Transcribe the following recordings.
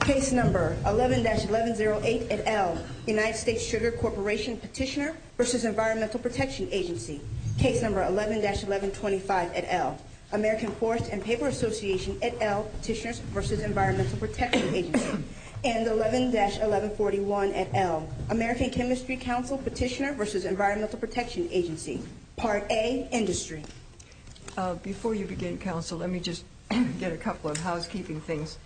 Case No. 11-1108 et al., United States Sugar Corporation Petitioner v. Environmental Protection Agency. Case No. 11-1125 et al., American Forest and Paper Association et al., Petitioners v. Environmental Protection Agency. And 11-1141 et al., American Chemistry Council Petitioner v. Environmental Protection Agency. Part A, Industry. Before you begin, counsel, let me just get a couple of housekeeping things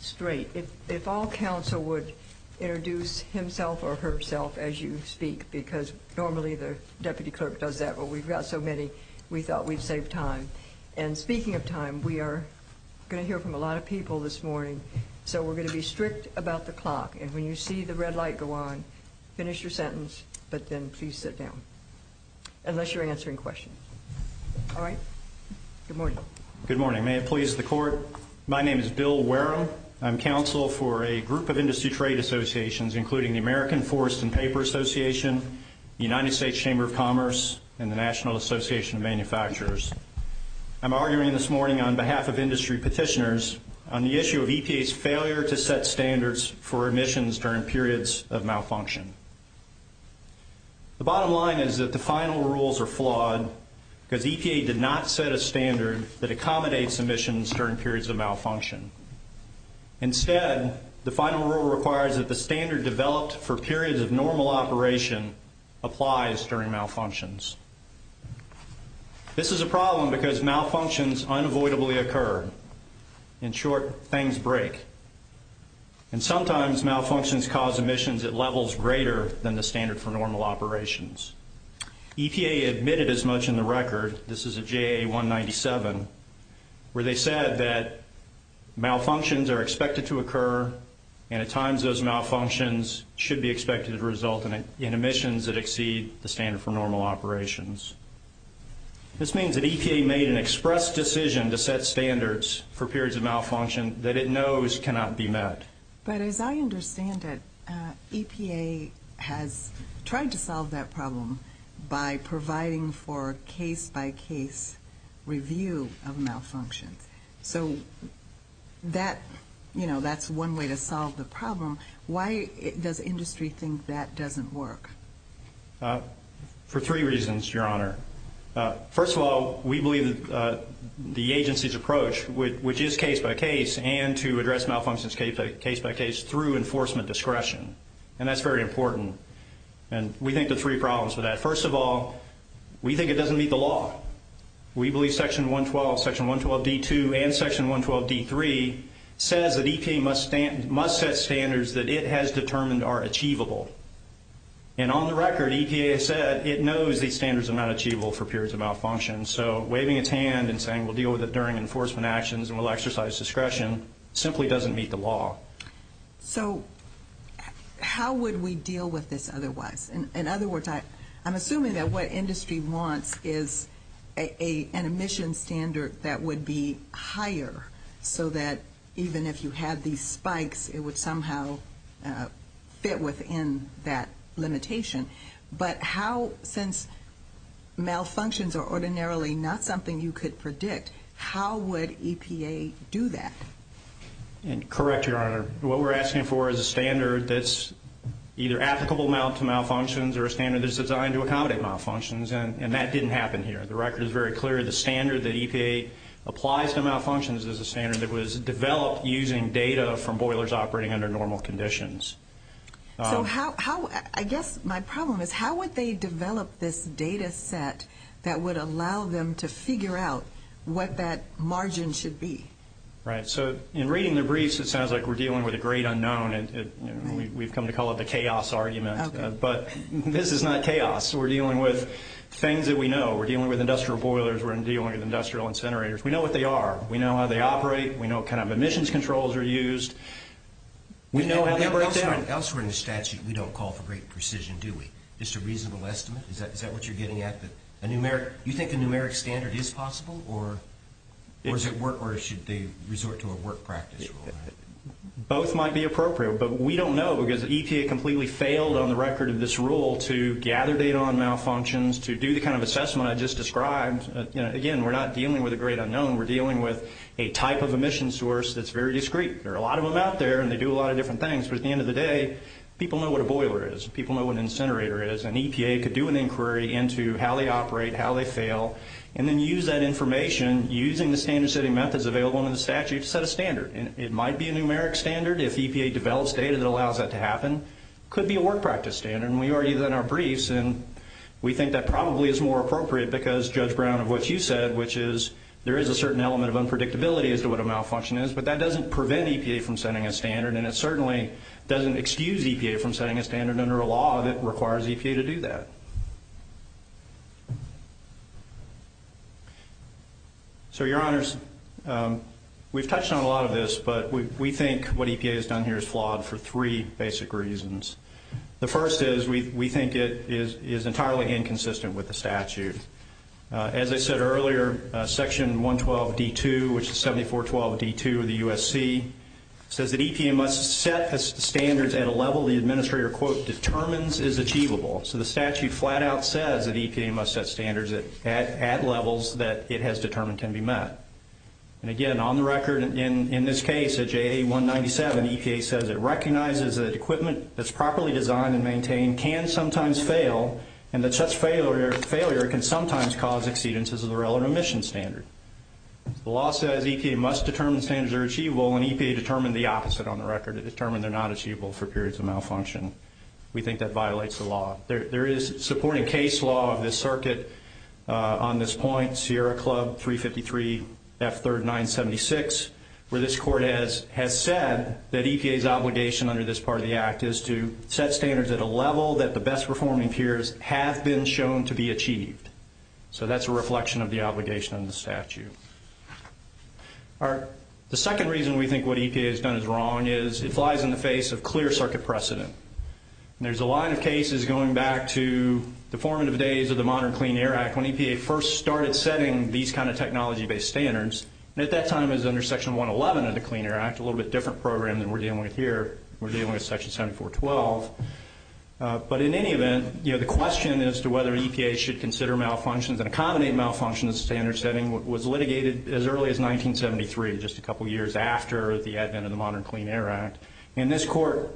straight. If all, counsel would introduce himself or herself as you speak, because normally the deputy clerk does that, but we've got so many, we thought we'd save time. And speaking of time, we are going to hear from a lot of people this morning, so we're going to be strict about the clock. And when you see the red light go on, finish your sentence, but then please sit down, unless you're answering questions. All right? Good morning. Good morning. May it please the court, my name is Bill Wareham. I'm counsel for a group of industry trade associations, including the American Forest and Paper Association, the United States Chamber of Commerce, and the National Association of Manufacturers. I'm arguing this morning on behalf of industry petitioners on the issue of EPA's failure to set standards for emissions during periods of malfunction. The bottom line is that the final rules are flawed, because EPA did not set a standard that accommodates emissions during periods of malfunction. Instead, the final rule requires that the standard developed for periods of normal operation applies during malfunctions. This is a problem because malfunctions unavoidably occur. In short, things break. And sometimes malfunctions cause emissions at levels greater than the standard for normal operations. EPA admitted as much in the record, this is a JA 197, where they said that malfunctions are expected to occur, and at times those malfunctions should be expected to result in emissions that exceed the standard for normal operations. This means that EPA made an express decision to set standards for periods of malfunction that it knows cannot be met. But as I understand it, EPA has tried to solve that problem by providing for case-by-case review of malfunctions. So that's one way to solve the problem. Why does industry think that doesn't work? For three reasons, Your Honor. First of all, we believe the agency's approach, which is case-by-case, and to address malfunctions case-by-case through enforcement discretion. And that's very important. And we think there are three problems with that. First of all, we think it doesn't meet the law. We believe Section 112, Section 112D2, and Section 112D3 says that EPA must set standards that it has determined are achievable. And on the record, EPA said it knows these standards are not achievable for periods of malfunction. So waving its hand and saying we'll deal with it during enforcement actions and we'll exercise discretion simply doesn't meet the law. So how would we deal with this otherwise? In other words, I'm assuming that what industry wants is an emission standard that would be higher so that even if you had these spikes, it would somehow fit within that limitation. But how, since malfunctions are ordinarily not something you could predict, how would EPA do that? Correct, Your Honor. What we're asking for is a standard that's either applicable to malfunctions or a standard that's designed to accommodate malfunctions. And that didn't happen here. The record is very clear. The standard that EPA applies to malfunctions is a standard that was developed using data from boilers operating under normal conditions. I guess my problem is how would they develop this data set that would allow them to figure out what that margin should be? Right. In reading the briefs, it sounds like we're dealing with a great unknown. We've come to call it the chaos argument. But this is not chaos. We're dealing with things that we know. We're dealing with industrial boilers. We're dealing with industrial incinerators. We know what they are. We know how they operate. We know what kind of emissions controls are used. We know how they work. Elsewhere in the statute, we don't call it the rate precision, do we? It's a reasonable estimate? Is that what you're getting at? Do you think a numeric standard is possible? Or should they resort to a work practice rule? Both might be appropriate. But we don't know because EPA completely failed on the record in this rule to gather data on malfunctions, to do the kind of assessment I just described. Again, we're not dealing with a great unknown. We're dealing with a type of emission source that's very discreet. There are a lot of them out there, and they do a lot of different things. But at the end of the day, people know what a boiler is. People know what an incinerator is. And EPA could do an inquiry into how they operate, how they fail, and then use that information, using the standard setting methods available under the statute, to set a standard. It might be a numeric standard. If EPA develops data that allows that to happen, it could be a work practice standard. And we already have that in our briefs. And we think that probably is more appropriate because, Judge Brown, of what you said, which is there is a certain element of unpredictability as to what a malfunction is. But that doesn't prevent EPA from setting a standard. And it certainly doesn't excuse EPA from setting a standard under a law that requires EPA to do that. So, Your Honors, we've touched on a lot of this. But we think what EPA has done here is flawed for three basic reasons. The first is we think it is entirely inconsistent with the statute. As I said earlier, Section 112.d.2, which is 7412.d.2 of the U.S.C., says that EPA must set the standards at a level the administrator, quote, determines is achievable. So the statute flat out says that EPA must set standards at levels that it has determined can be met. And, again, on the record, in this case, J.A. 197, EPA says it recognizes that equipment that's properly designed and maintained can sometimes fail and that such failure can sometimes cause exceedances of the relevant emission standard. The law says EPA must determine standards are achievable, and EPA determined the opposite on the record. It determined they're not achievable for periods of malfunction. We think that violates the law. There is supporting case law of this circuit on this point, Sierra Club 353 F3rd 976, where this court has said that EPA's obligation under this part of the act is to set standards at a level that the best performing peers have been shown to be achieved. So that's a reflection of the obligation of the statute. All right. The second reason we think what EPA has done is wrong is it flies in the face of clear circuit precedent. And there's a lot of cases going back to the formative days of the Modern Clean Air Act, when EPA first started setting these kind of technology-based standards, and at that time it was under Section 111 of the Clean Air Act, a little bit different program than we're dealing with here. We're dealing with Section 7412. But in any event, you know, the question as to whether EPA should consider malfunctions and accommodate malfunctions in standards setting was litigated as early as 1973, just a couple years after the advent of the Modern Clean Air Act. And this court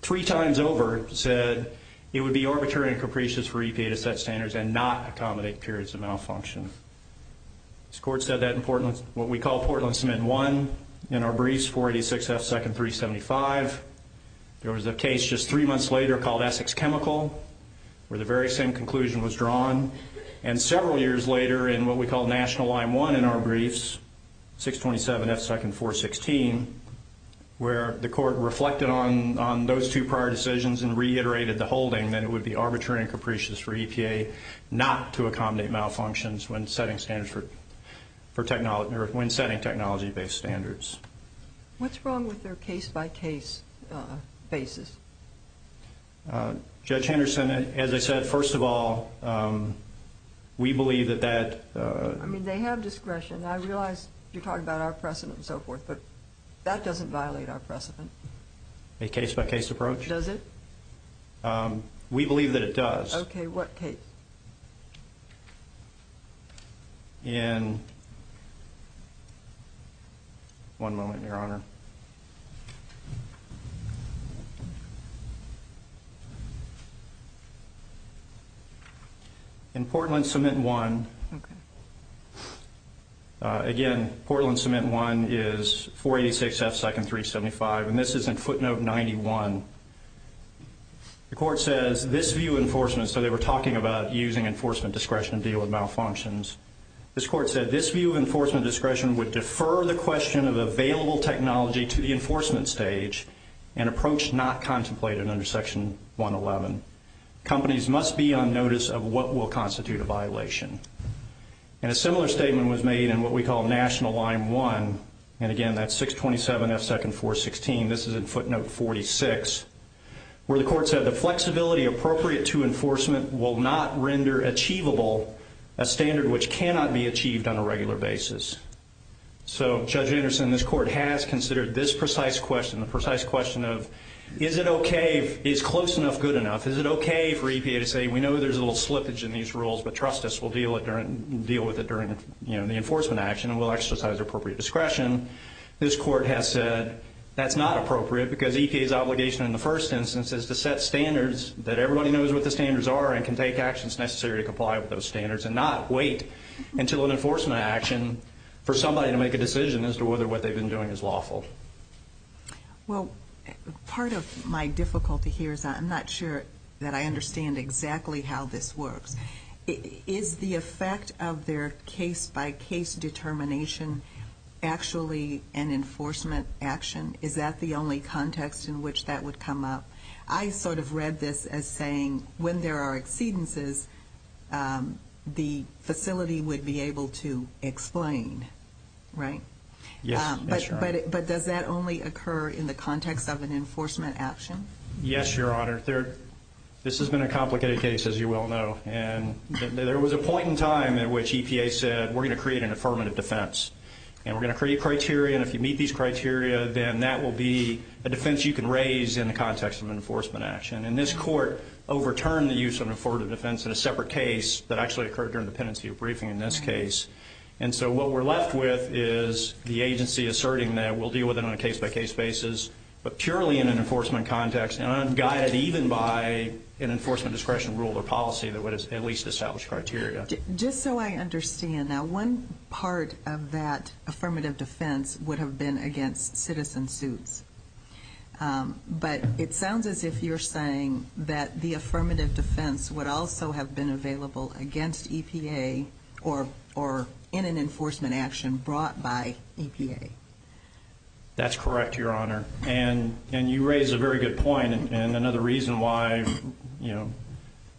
three times over said it would be arbitrary and capricious for EPA to set standards and not accommodate periods of malfunction. This court said that in what we call Portland Cement 1. In our briefs, 486F2-375. There was a case just three months later called Essex Chemical, where the very same conclusion was drawn. And several years later in what we call National Line 1 in our briefs, 627F2-416, where the court reflected on those two prior decisions and reiterated the holding that it would be arbitrary and capricious for EPA not to accommodate malfunctions when setting technology-based standards. What's wrong with their case-by-case basis? Judge Henderson, as I said, first of all, we believe that that... I mean, they have discretion. I realize you're talking about our precedent and so forth, but that doesn't violate our precedent. A case-by-case approach? Does it? We believe that it does. Okay, what case? In... One moment, Your Honor. In Portland Cement 1, again, Portland Cement 1 is 486F2-375. And this is in footnote 91. The court says, this view of enforcement, so they were talking about using enforcement discretion to deal with malfunctions. This court said, this view of enforcement discretion would defer the question of available technology to the enforcement stage, an approach not contemplated under Section 111. Companies must be on notice of what will constitute a violation. And a similar statement was made in what we call National Line 1, and again, that's 627F2-416. This is in footnote 46, where the court said, the flexibility appropriate to enforcement will not render achievable a standard which cannot be achieved on a regular basis. So, Judge Henderson, this court has considered this precise question, the precise question of, is it okay, is close enough good enough? Is it okay for EPA to say, we know there's a little slippage in these rules, but trust us, we'll deal with it during the enforcement action and we'll exercise appropriate discretion. This court has said, that's not appropriate, because EPA's obligation in the first instance is to set standards, that everybody knows what the standards are and can take actions necessary to comply with those standards and not wait until an enforcement action for somebody to make a decision as to whether what they've been doing is lawful. Well, part of my difficulty here is I'm not sure that I understand exactly how this works. Is the effect of their case-by-case determination actually an enforcement action? Is that the only context in which that would come up? I sort of read this as saying, when there are exceedances, the facility would be able to explain, right? But does that only occur in the context of an enforcement action? Yes, Your Honor. This has been a complicated case, as you well know. And there was a point in time at which EPA said, we're going to create an affirmative defense. And we're going to create criteria, and if you meet these criteria, then that will be a defense you can raise in the context of an enforcement action. And this court overturned the use of an affirmative defense in a separate case that actually occurred during the pendency briefing in this case. And so what we're left with is the agency asserting that we'll deal with it on a case-by-case basis, but purely in an enforcement context, and unguided even by an enforcement discretion rule or policy that would at least establish criteria. Just so I understand, now, one part of that affirmative defense would have been against citizen suits. But it sounds as if you're saying that the affirmative defense would also have been available against EPA or in an enforcement action brought by EPA. That's correct, Your Honor. And you raise a very good point. And another reason why, you know,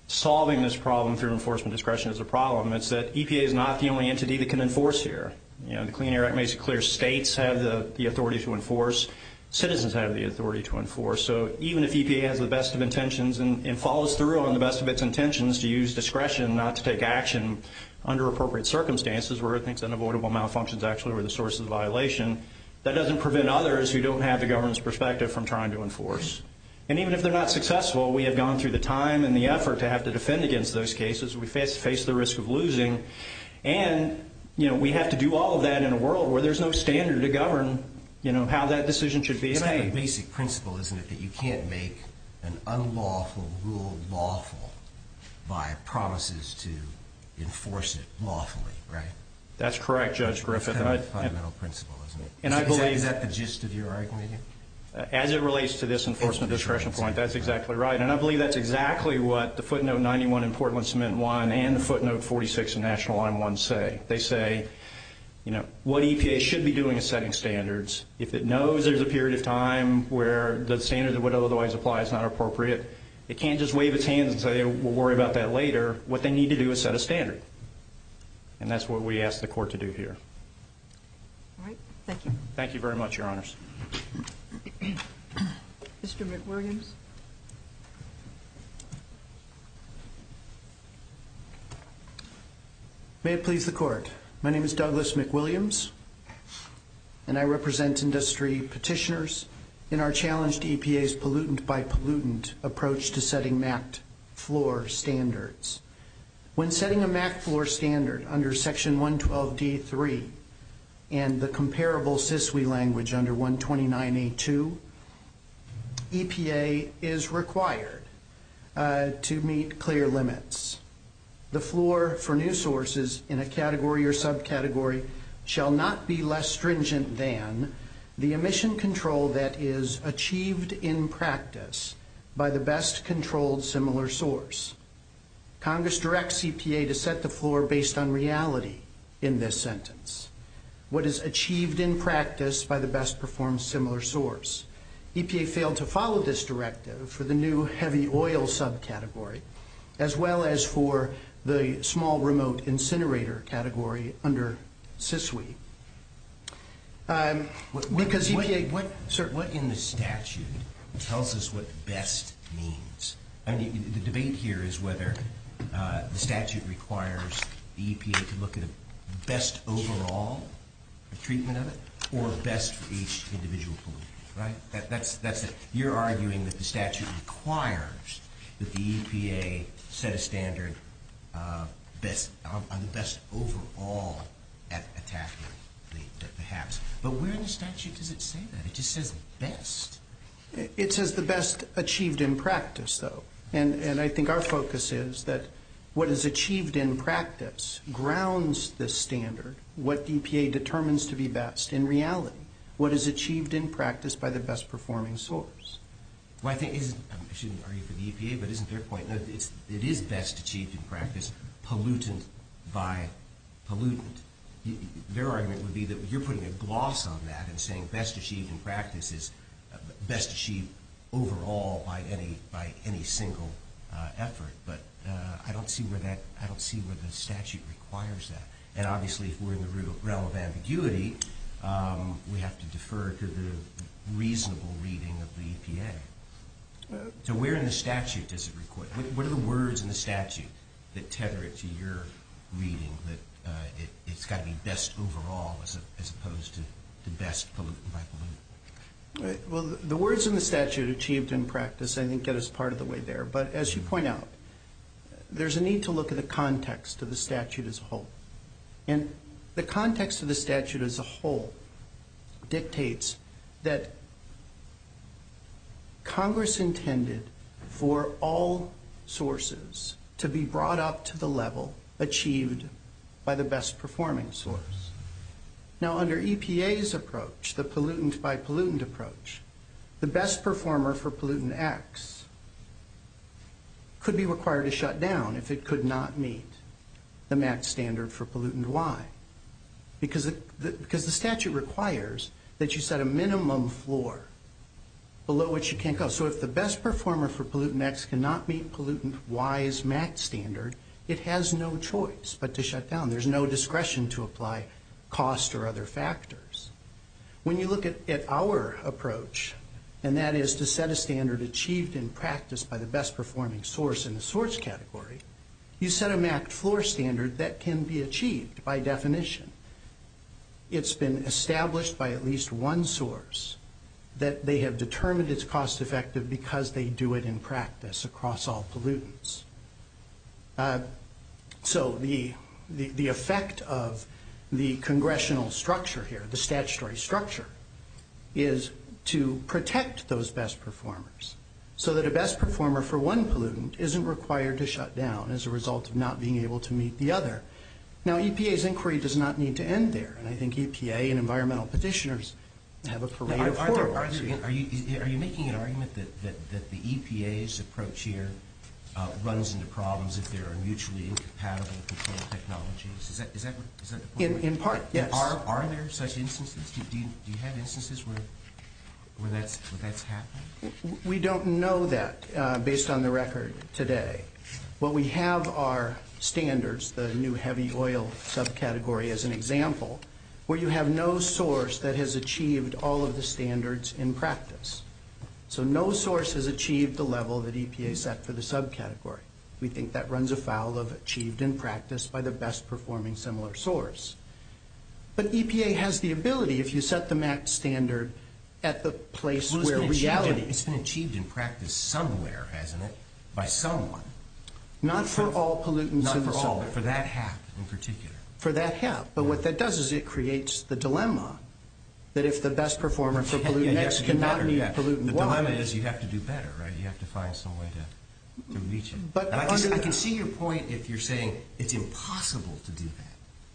solving this problem through enforcement discretion is a problem, is that EPA is not the only entity that can enforce here. You know, the Clean Air Act makes it clear states have the authority to enforce, citizens have the authority to enforce. So even if EPA has the best of intentions and follows through on the best of its intentions to use discretion not to take action under appropriate circumstances, where I think unavoidable malfunctions actually are the source of the violation, that doesn't prevent others who don't have the government's perspective from trying to enforce. And even if they're not successful, we have gone through the time and the effort to have to defend against those cases. We face the risk of losing. And, you know, we have to do all of that in a world where there's no standard to govern, you know, how that decision should be. The basic principle is that you can't make an unlawful rule lawful by promises to enforce it lawfully, right? That's correct, Judge Griffith. That's a fundamental principle, isn't it? And I believe that... Is that the gist of your argument? As it relates to this enforcement discretion point, that's exactly right. And I believe that's exactly what the footnote 91 in Portland Cement and Wine and the footnote 46 in National Law and One say. They say, you know, what EPA should be doing is setting standards. If it knows there's a period of time where the standards that would otherwise apply is not appropriate, it can't just wave its hand and say, we'll worry about that later. What they need to do is set a standard. And that's what we ask the court to do here. All right. Thank you. Thank you very much, Your Honors. Mr. McWilliams. May it please the court. My name is Douglas McWilliams, and I represent industry petitioners in our challenge to EPA's non-pollutant approach to setting MACT floor standards. When setting a MACT floor standard under Section 112.d.3 and the comparable CISWE language under 129.a.2, EPA is required to meet clear limits. The floor for new sources in a category or subcategory shall not be less stringent than the emission control that is achieved in practice by the best-controlled similar source. Congress directs EPA to set the floor based on reality in this sentence. What is achieved in practice by the best-performed similar source. EPA failed to follow this directive for the new heavy oil subcategory, as well as for the small remote incinerator category under CISWE. Sir, what in the statute tells us what best means? The debate here is whether the statute requires EPA to look at best overall, the treatment of it, or best for each individual. That's it. You're arguing that the statute requires that the EPA set a standard on best overall at a category, perhaps. But where in the statute does it say that? It just says best. It says the best achieved in practice, though. And I think our focus is that what is achieved in practice grounds this standard, what the EPA determines to be best in reality, what is achieved in practice by the best-performing source. I shouldn't agree with the EPA, but isn't their point, it is best achieved in practice pollutant by pollutant. Their argument would be that you're putting a gloss on that and saying best achieved in practice is best achieved overall by any single effort. But I don't see where the statute requires that. And obviously, if we're in the realm of ambiguity, we have to defer to the reasonable reading of the EPA. So where in the statute does it require it? What are the words in the statute that tether it to your reading that it's got to be best overall as opposed to the best pollutant by pollutant? Well, the words in the statute, achieved in practice, I think that is part of the way there. But as you point out, there's a need to look at the context of the statute as a whole. And the context of the statute as a whole dictates that Congress intended for all sources to be brought up to the level achieved by the best-performing source. Now, under EPA's approach, the pollutant by pollutant approach, the best performer for pollutant acts could be required to shut down if it could not meet the MAC standard for pollutant Y. Because the statute requires that you set a minimum floor below which you can't go. So if the best performer for pollutant X cannot meet pollutant Y's MAC standard, it has no choice but to shut down. There's no discretion to apply cost or other factors. When you look at our approach, and that is to set a standard achieved in practice by the best-performing source in the source category, you set a MAC floor standard that can be achieved by definition. It's been established by at least one source that they have determined it's cost-effective because they do it in practice across all pollutants. So the effect of the congressional structure here, the statutory structure, is to protect those best performers so that a best performer for one pollutant isn't required to shut down as a result of not being able to meet the other. Now, EPA's inquiry does not need to end there, and I think EPA and environmental petitioners have a parade of floors. Are you making an argument that the EPA's approach here runs into problems if they are mutually incapacitated to control technologies? In part, yes. Are there such instances? Do you have instances where that's happened? We don't know that based on the record today. What we have are standards, the new heavy oil subcategory as an example, where you have no source that has achieved all of the standards in practice. So no source has achieved the level that EPA set for the subcategory. We think that runs afoul of achieved in practice by the best-performing similar source. But EPA has the ability, if you set the max standard at the place where reality... It's been achieved in practice somewhere, hasn't it, by someone. Not for all pollutants. Not for all, but for that half in particular. For that half, but what that does is it creates the dilemma that if the best performer for pollutants cannot meet pollutant Y... I can see your point if you're saying it's impossible to do that,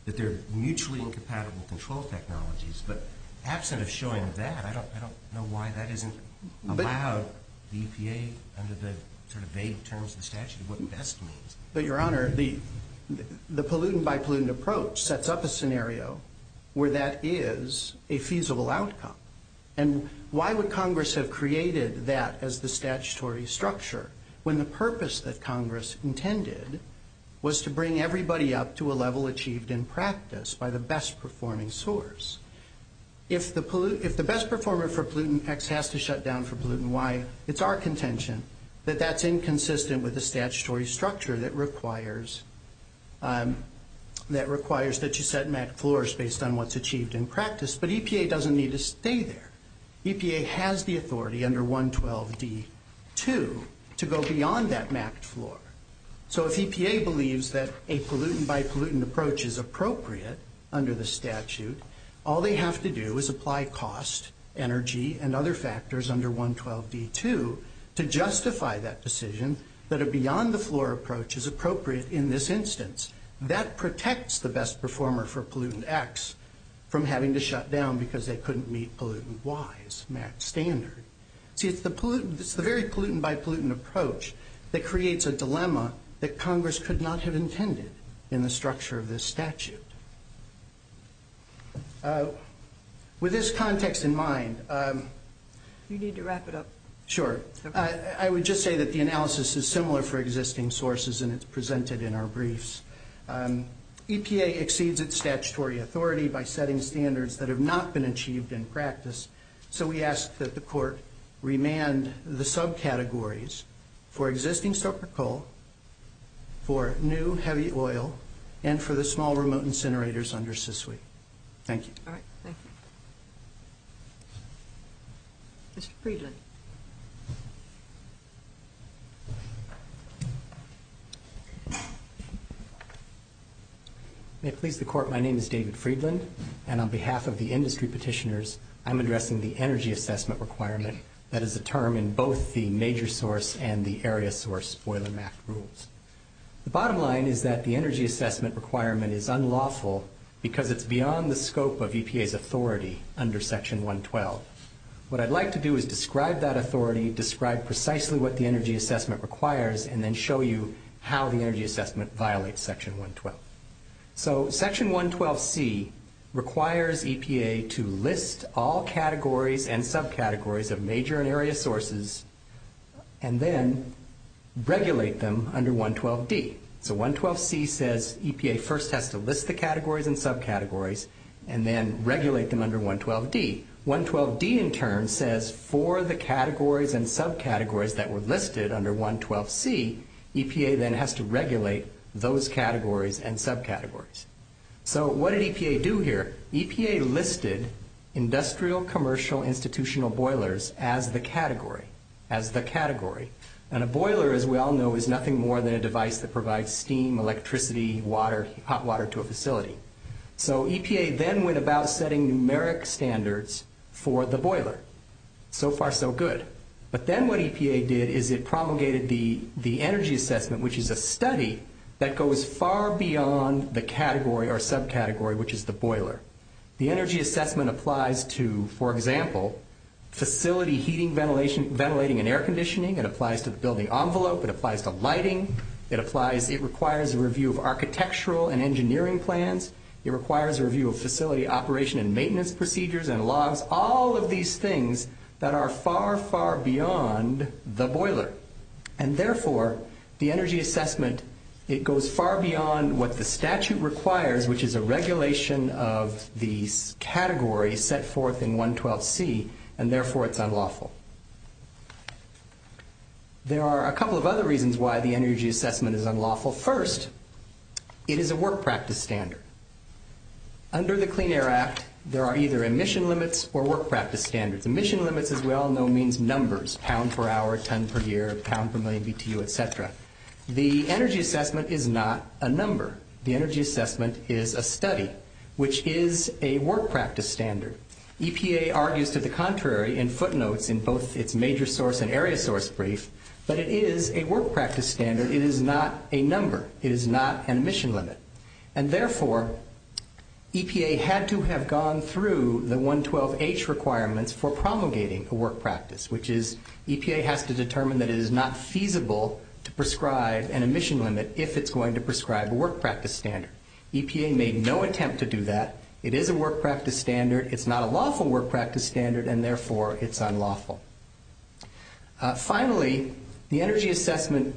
that there are mutually incompatible control technologies, but absent of showing that, I don't know why that isn't allowed. EPA, under the vague terms of the statute, what does that mean? Your Honor, the pollutant-by-pollutant approach sets up a scenario where that is a feasible outcome. And why would Congress have created that as the statutory structure when the purpose that Congress intended was to bring everybody up to a level achieved in practice by the best-performing source? If the best performer for pollutant X has to shut down for pollutant Y, it's our contention that that's inconsistent with the statutory structure that requires that you set max floors based on what's achieved in practice. But EPA doesn't need to stay there. EPA has the authority under 112D2 to go beyond that max floor. So if EPA believes that a pollutant-by-pollutant approach is appropriate under the statute, all they have to do is apply cost, energy, and other factors under 112D2 to justify that decision that a beyond-the-floor approach is appropriate in this instance. That protects the best performer for pollutant X from having to shut down because they couldn't meet pollutant Y's max standard. See, it's the very pollutant-by-pollutant approach that creates a dilemma that Congress could not have intended in the structure of this statute. With this context in mind... You need to wrap it up. Sure. I would just say that the analysis is similar for existing sources and is presented in our briefs. EPA exceeds its statutory authority by setting standards that have not been achieved in practice. So we ask that the court remand the subcategories for existing soaker coal, for new heavy oil, and for the small remote incinerators under CICLI. Thank you. All right. Thank you. Mr. Friedland. May it please the court, my name is David Friedland, and on behalf of the industry petitioners, I'm addressing the energy assessment requirement that is a term in both the major source and the area source spoiler map rules. The bottom line is that the energy assessment requirement is unlawful because it's beyond the scope of EPA's authority under Section 112. What I'd like to do is describe that authority, describe precisely what the energy assessment requires, and then show you how the energy assessment violates Section 112. So Section 112C requires EPA to list all categories and subcategories of major and area sources and then regulate them under 112D. So 112C says EPA first has to list the categories and subcategories and then regulate them under 112D. 112D in turn says for the categories and subcategories that were listed under 112C, EPA then has to regulate those categories and subcategories. So what did EPA do here? EPA listed industrial, commercial, institutional boilers as the category. And a boiler, as we all know, is nothing more than a device that provides steam, electricity, hot water to a facility. So EPA then went about setting numeric standards for the boiler. So far, so good. But then what EPA did is it promulgated the energy assessment, which is a study that goes far beyond the category or subcategory, which is the boiler. The energy assessment applies to, for example, facility heating, ventilating, and air conditioning. It applies to the building envelope. It applies to lighting. It requires a review of architectural and engineering plans. It requires a review of facility operation and maintenance procedures and logs, all of these things that are far, far beyond the boiler. And therefore, the energy assessment, it goes far beyond what the statute requires, which is a regulation of the category set forth in 112C, and therefore it's unlawful. There are a couple of other reasons why the energy assessment is unlawful. First, it is a work practice standard. Under the Clean Air Act, there are either emission limits or work practice standards. Emission limits, as we all know, means numbers, pounds per hour, tons per year, pounds per million BTU, et cetera. The energy assessment is not a number. The energy assessment is a study, which is a work practice standard. EPA argues to the contrary in footnotes in both its major source and area source briefs, but it is a work practice standard. It is not a number. It is not an emission limit. And therefore, EPA had to have gone through the 112H requirements for promulgating a work practice, which is EPA has to determine that it is not feasible to prescribe an emission limit if it's going to prescribe a work practice standard. EPA made no attempt to do that. It is a work practice standard. It's not a lawful work practice standard, and therefore it's unlawful. Finally, the energy assessment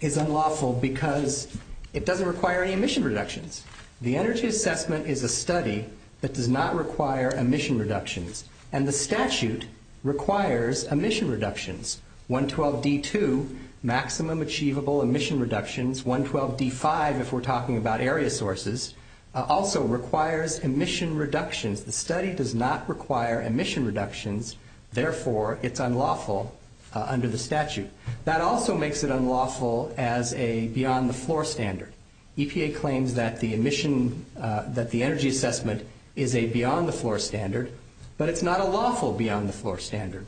is unlawful because it doesn't require any emission reductions. The energy assessment is a study that does not require emission reductions, and the statute requires emission reductions. 112D2, maximum achievable emission reductions. 112D5, if we're talking about area sources, also requires emission reductions. The study does not require emission reductions. Therefore, it's unlawful under the statute. That also makes it unlawful as a beyond-the-floor standard. EPA claims that the energy assessment is a beyond-the-floor standard, but it's not a lawful beyond-the-floor standard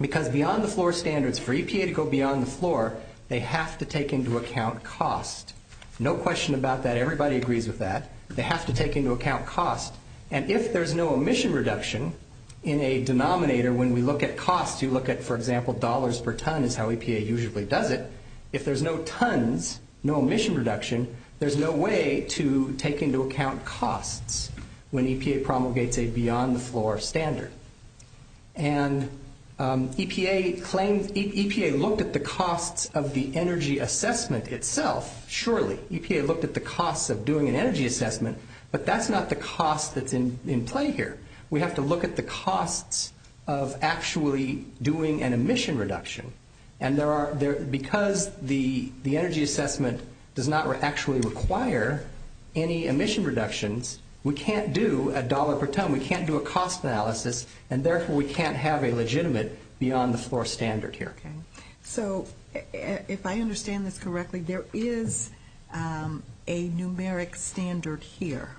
because beyond-the-floor standards for EPA to go beyond the floor, they have to take into account cost. No question about that. Everybody agrees with that. They have to take into account cost. And if there's no emission reduction in a denominator, when we look at cost, you look at, for example, dollars per ton is how EPA usually does it. If there's no tons, no emission reduction, there's no way to take into account cost when EPA promulgates a beyond-the-floor standard. And EPA looked at the cost of the energy assessment itself, surely. EPA looked at the cost of doing an energy assessment, but that's not the cost that's in play here. We have to look at the cost of actually doing an emission reduction. And because the energy assessment does not actually require any emission reductions, we can't do a dollar per ton, we can't do a cost analysis, and therefore we can't have a legitimate beyond-the-floor standard here. So if I understand this correctly, there is a numeric standard here,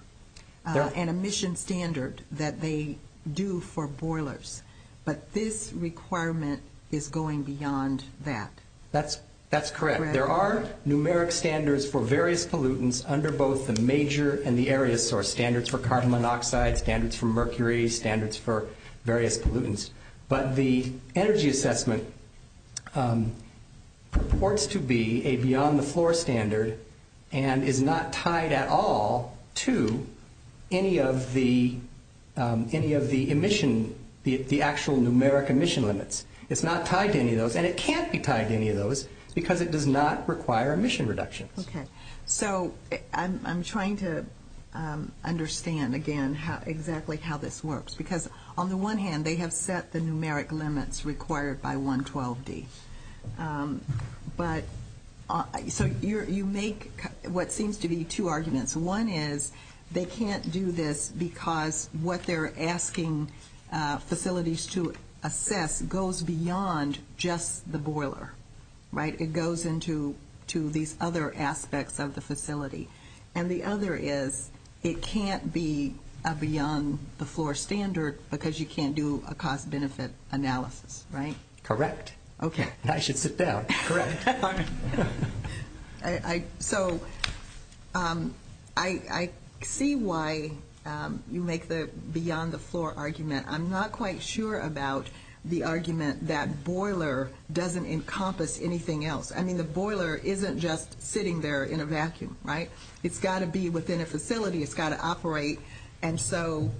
an emission standard that they do for boilers, but this requirement is going beyond that. That's correct. There are numeric standards for various pollutants under both the major and the area, so standards for carbon monoxide, standards for mercury, standards for various pollutants. But the energy assessment reports to be a beyond-the-floor standard and is not tied at all to any of the emission, the actual numeric emission limits. It's not tied to any of those, and it can't be tied to any of those, because it does not require emission reduction. Okay. So I'm trying to understand, again, exactly how this works. Because on the one hand, they have set the numeric limits required by 112D. But you make what seems to be two arguments. One is they can't do this because what they're asking facilities to assess goes beyond just the boiler, right? It goes into these other aspects of the facility. And the other is it can't be a beyond-the-floor standard because you can't do a cost-benefit analysis, right? Correct. Okay. I should sit down. Correct. So I see why you make the beyond-the-floor argument. I'm not quite sure about the argument that boiler doesn't encompass anything else. I mean, the boiler isn't just sitting there in a vacuum, right? It's got to be within a facility. It's got to operate. And so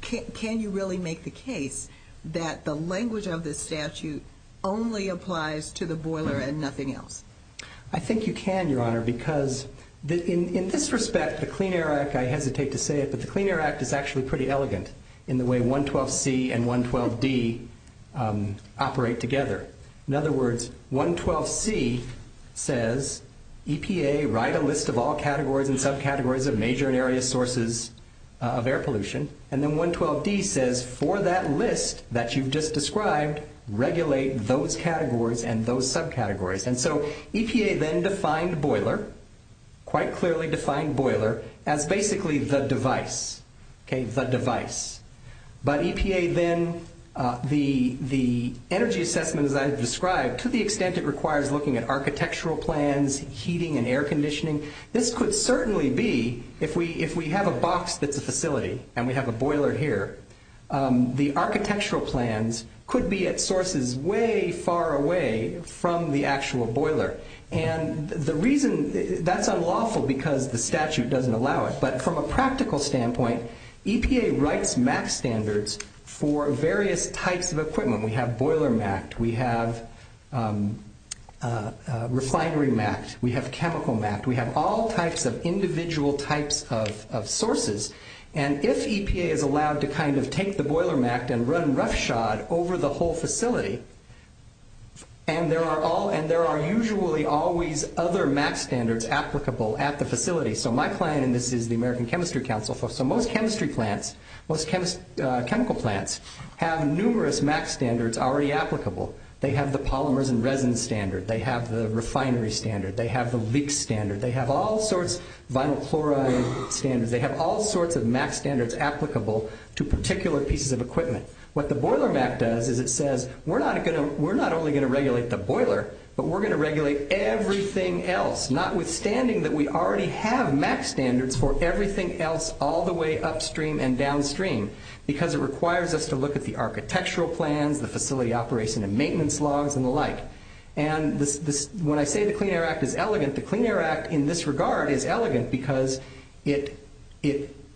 can you really make the case that the language of the statute only applies to the boiler and nothing else? I think you can, Your Honor, because in this respect, the Clean Air Act, I hesitate to say it, but the Clean Air Act is actually pretty elegant in the way 112C and 112D operate together. In other words, 112C says EPA, write a list of all categories and subcategories of major area sources of air pollution. And then 112D says for that list that you just described, regulate those categories and those subcategories. And so EPA then defined boiler, quite clearly defined boiler, as basically the device, okay, the device. But EPA then, the energy assessment that I described, to the extent it requires looking at architectural plans, heating and air conditioning, this could certainly be, if we have a box at the facility and we have a boiler here, the architectural plans could be at sources way far away from the actual boiler. And the reason, that's unlawful because the statute doesn't allow it. But from a practical standpoint, EPA writes MAC standards for various types of equipment. We have boiler MAC'd. We have refinery MAC'd. We have chemical MAC'd. We have all types of individual types of sources. And if EPA is allowed to kind of take the boiler MAC'd and run roughshod over the whole facility, and there are usually always other MAC standards applicable at the facility. So my client, and this is the American Chemistry Council, so most chemistry plants, most chemical plants, have numerous MAC standards already applicable. They have the polymers and resin standard. They have the refinery standard. They have the leak standard. They have all sorts of vinyl chloride standards. They have all sorts of MAC standards applicable to particular pieces of equipment. What the boiler MAC'd does is it says, we're not only going to regulate the boiler, but we're going to regulate everything else, notwithstanding that we already have MAC standards for everything else all the way upstream and downstream, because it requires us to look at the architectural plans, the facility operation and maintenance laws, and the like. And when I say the Clean Air Act is elegant, the Clean Air Act in this regard is elegant because it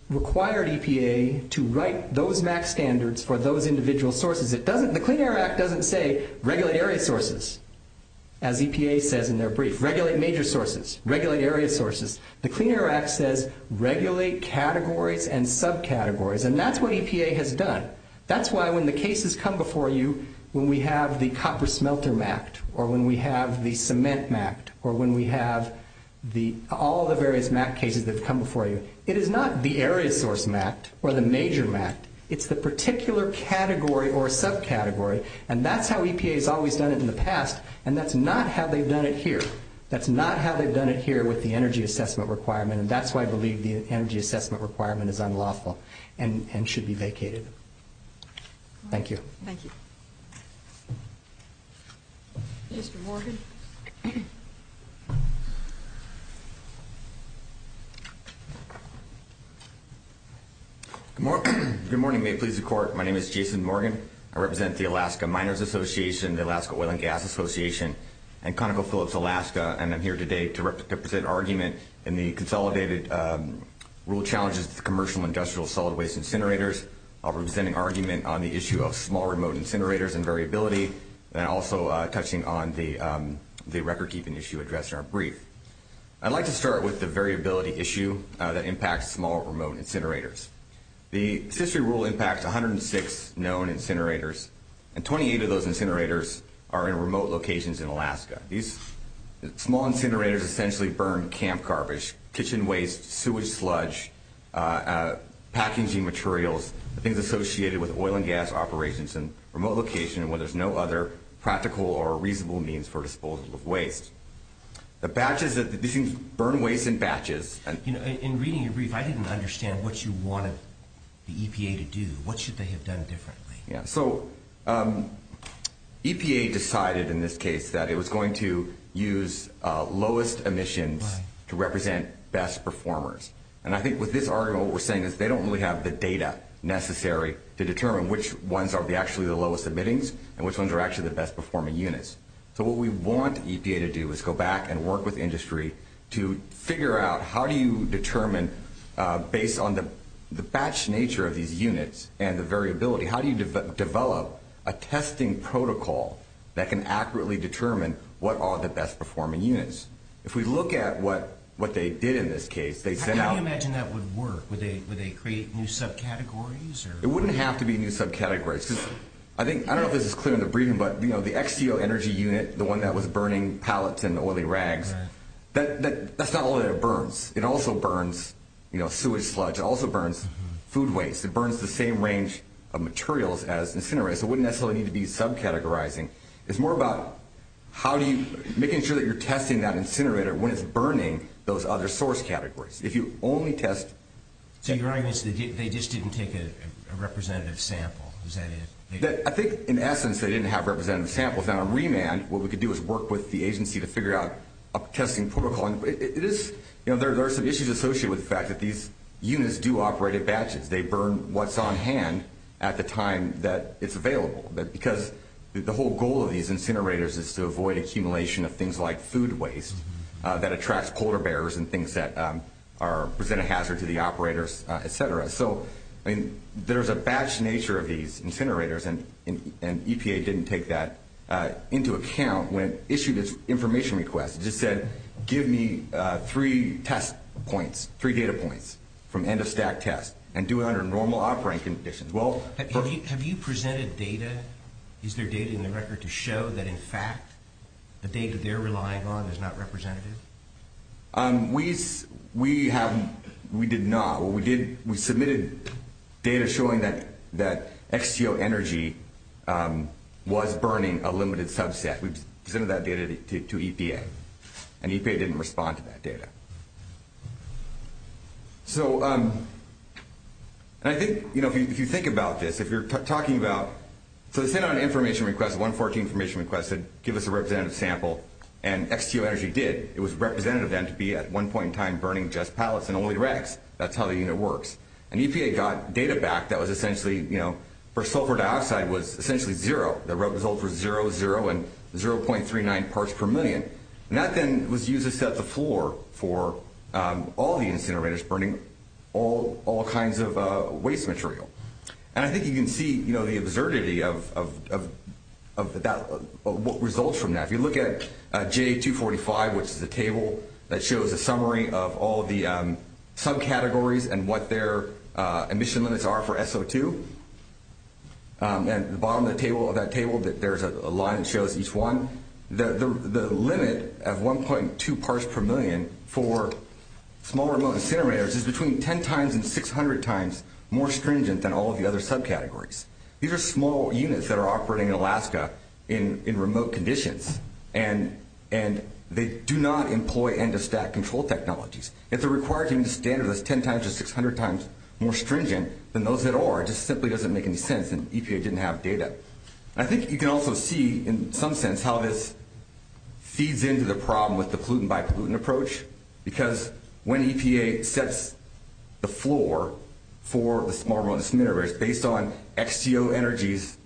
required EPA to write those MAC standards for those individual sources. The Clean Air Act doesn't say regulate area sources, as EPA says in their brief. Regulate major sources. Regulate area sources. The Clean Air Act says regulate categories and subcategories, and that's what EPA has done. That's why when the cases come before you, when we have the copper smelter MAC'd, or when we have the cement MAC'd, or when we have all the various MAC cases that have come before you, it is not the area source MAC'd or the major MAC'd. It's the particular category or subcategory, and that's how EPA has always done it in the past, and that's not how they've done it here. That's not how they've done it here with the energy assessment requirement, and that's why I believe the energy assessment requirement is unlawful and should be vacated. Thank you. Thank you. Jason Morgan. Good morning. May it please the Court. My name is Jason Morgan. I represent the Alaska Miners Association, the Alaska Oil and Gas Association, and ConocoPhillips Alaska, and I'm here today to represent argument in the consolidated rule challenges for commercial and industrial solid waste incinerators. I'll represent an argument on the issue of small remote incinerators and variability, and also touching on the record-keeping issue addressed in our brief. I'd like to start with the variability issue that impacts small remote incinerators. The statutory rule impacts 106 known incinerators, and 28 of those incinerators are in remote locations in Alaska. These small incinerators essentially burn camp garbage, kitchen waste, sewage sludge, packaging materials, things associated with oil and gas operations in remote locations where there's no other practical or reasonable means for disposal of waste. The batches of these things burn waste in batches. In reading your brief, I didn't understand what you wanted the EPA to do. What should they have done differently? So EPA decided in this case that it was going to use lowest emissions to represent best performers. And I think with this argument, what we're saying is they don't really have the data necessary to determine which ones are actually the lowest emitting and which ones are actually the best performing units. So what we want EPA to do is go back and work with industry to figure out how do you determine, based on the batch nature of these units and the variability, how do you develop a testing protocol that can accurately determine what are the best performing units? If we look at what they did in this case, they sent out- How do you imagine that would work? Would they create new subcategories? It wouldn't have to be new subcategories. I don't know if this is clear in the briefing, but the XGO energy unit, the one that was burning pallets and oily rag, that's not all that it burns. It also burns sewage floods. It also burns food waste. It burns the same range of materials as incinerators. It wouldn't necessarily need to be subcategorizing. It's more about making sure that you're testing that incinerator when it's burning those other source categories. If you only test- So you're arguing they just didn't take a representative sample? I think, in essence, they didn't have representative samples. What we could do is work with the agency to figure out a testing protocol. There are some issues associated with the fact that these units do operate in batches. They burn what's on hand at the time that it's available, because the whole goal of these incinerators is to avoid accumulation of things like food waste that attracts polar bears and things that present a hazard to the operators, et cetera. There's a batch nature of these incinerators, and EPA didn't take that into account when it issued this information request. It said, give me three test points, three data points from end-of-stack tests, and do it under normal operating conditions. Have you presented data? Is there data in the record to show that, in fact, the data they're relying on is not representative? We did not. We submitted data showing that XTO Energy was burning a limited subset. We presented that data to EPA, and EPA didn't respond to that data. So I think, you know, if you think about this, if you're talking about – so they sent out an information request, a 114 information request, that said give us a representative sample, and XTO Energy did. It was representative then to be at one point in time burning just pallets and oily wrecks. That's how the unit works. And EPA got data back that was essentially, you know, for sulfur dioxide was essentially zero. The results were zero, zero, and 0.39 parts per million. And that then was used to set the floor for all the incinerators burning all kinds of waste material. And I think you can see, you know, the absurdity of what results from that. You look at J245, which is the table that shows a summary of all the subcategories and what their emission limits are for SO2. And at the bottom of that table there's a line that shows each one. The limit of 1.2 parts per million for small remote incinerators is between 10 times and 600 times more stringent than all of the other subcategories. These are small units that are operating in Alaska in remote conditions, and they do not employ end-of-stack control technologies. It's a required standard that's 10 times or 600 times more stringent than those that are. It just simply doesn't make any sense, and EPA didn't have data. I think you can also see in some sense how this feeds into the problem with the pollutant-by-pollutant approach, because when EPA sets the floor for the small remote incinerators based on XTO Energy's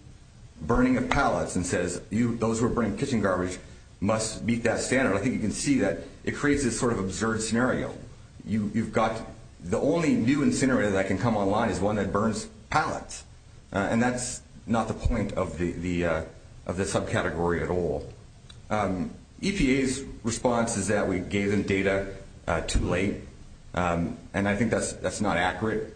burning of pallets and says those who are burning kitchen garbage must meet that standard, I think you can see that it creates this sort of absurd scenario. You've got the only new incinerator that can come online is one that burns pallets, and that's not the point of the subcategory at all. EPA's response is that we gave them data too late, and I think that's not accurate.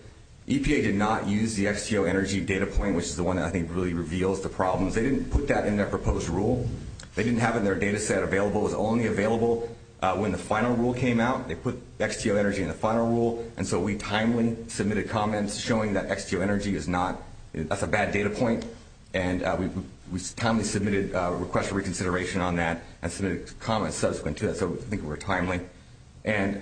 EPA did not use the XTO Energy data point, which is the one that I think really reveals the problem. They didn't put that in their proposed rule. They didn't have it in their data set available. It was only available when the final rule came out. They put XTO Energy in the final rule, and so we timely submitted comments showing that XTO Energy is not a bad data point, and we timely submitted a request for reconsideration on that and submitted comments subsequent to that, so I think we're timely. And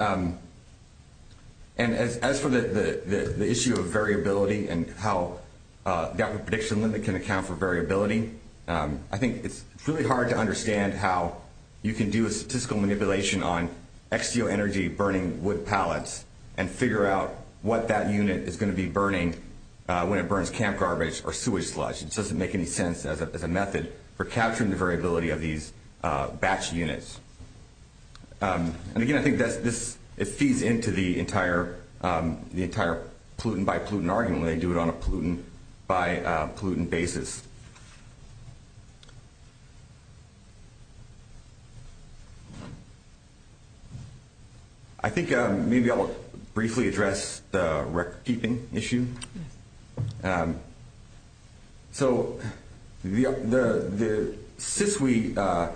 as for the issue of variability and how the output prediction limit can account for variability, I think it's really hard to understand how you can do a statistical manipulation on XTO Energy burning wood pallets and figure out what that unit is going to be burning when it burns camp garbage or sewage sludge. It doesn't make any sense as a method for capturing the variability of these batch units. And, again, I think it feeds into the entire pollutant-by-pollutant argument when they do it on a pollutant-by-pollutant basis. I think maybe I'll briefly address the record-keeping issue. So the SISWI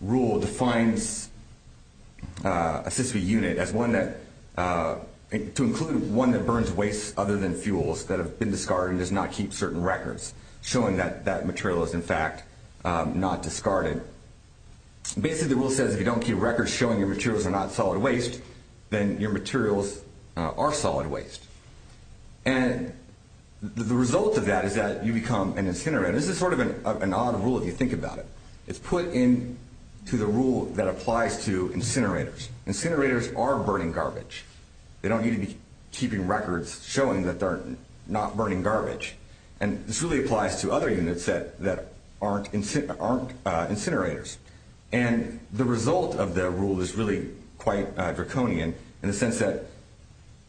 rule defines a SISWI unit as one that – to include one that burns waste other than fuels that have been discarded and does not keep certain records. Showing that that material is, in fact, not discarded. Basically, the rule says if you don't keep records showing your materials are not solid waste, then your materials are solid waste. And the result of that is that you become an incinerator. This is sort of an odd rule if you think about it. It's put into the rule that applies to incinerators. Incinerators are burning garbage. They don't need to be keeping records showing that they're not burning garbage. And this really applies to other units that aren't incinerators. And the result of the rule is really quite draconian in the sense that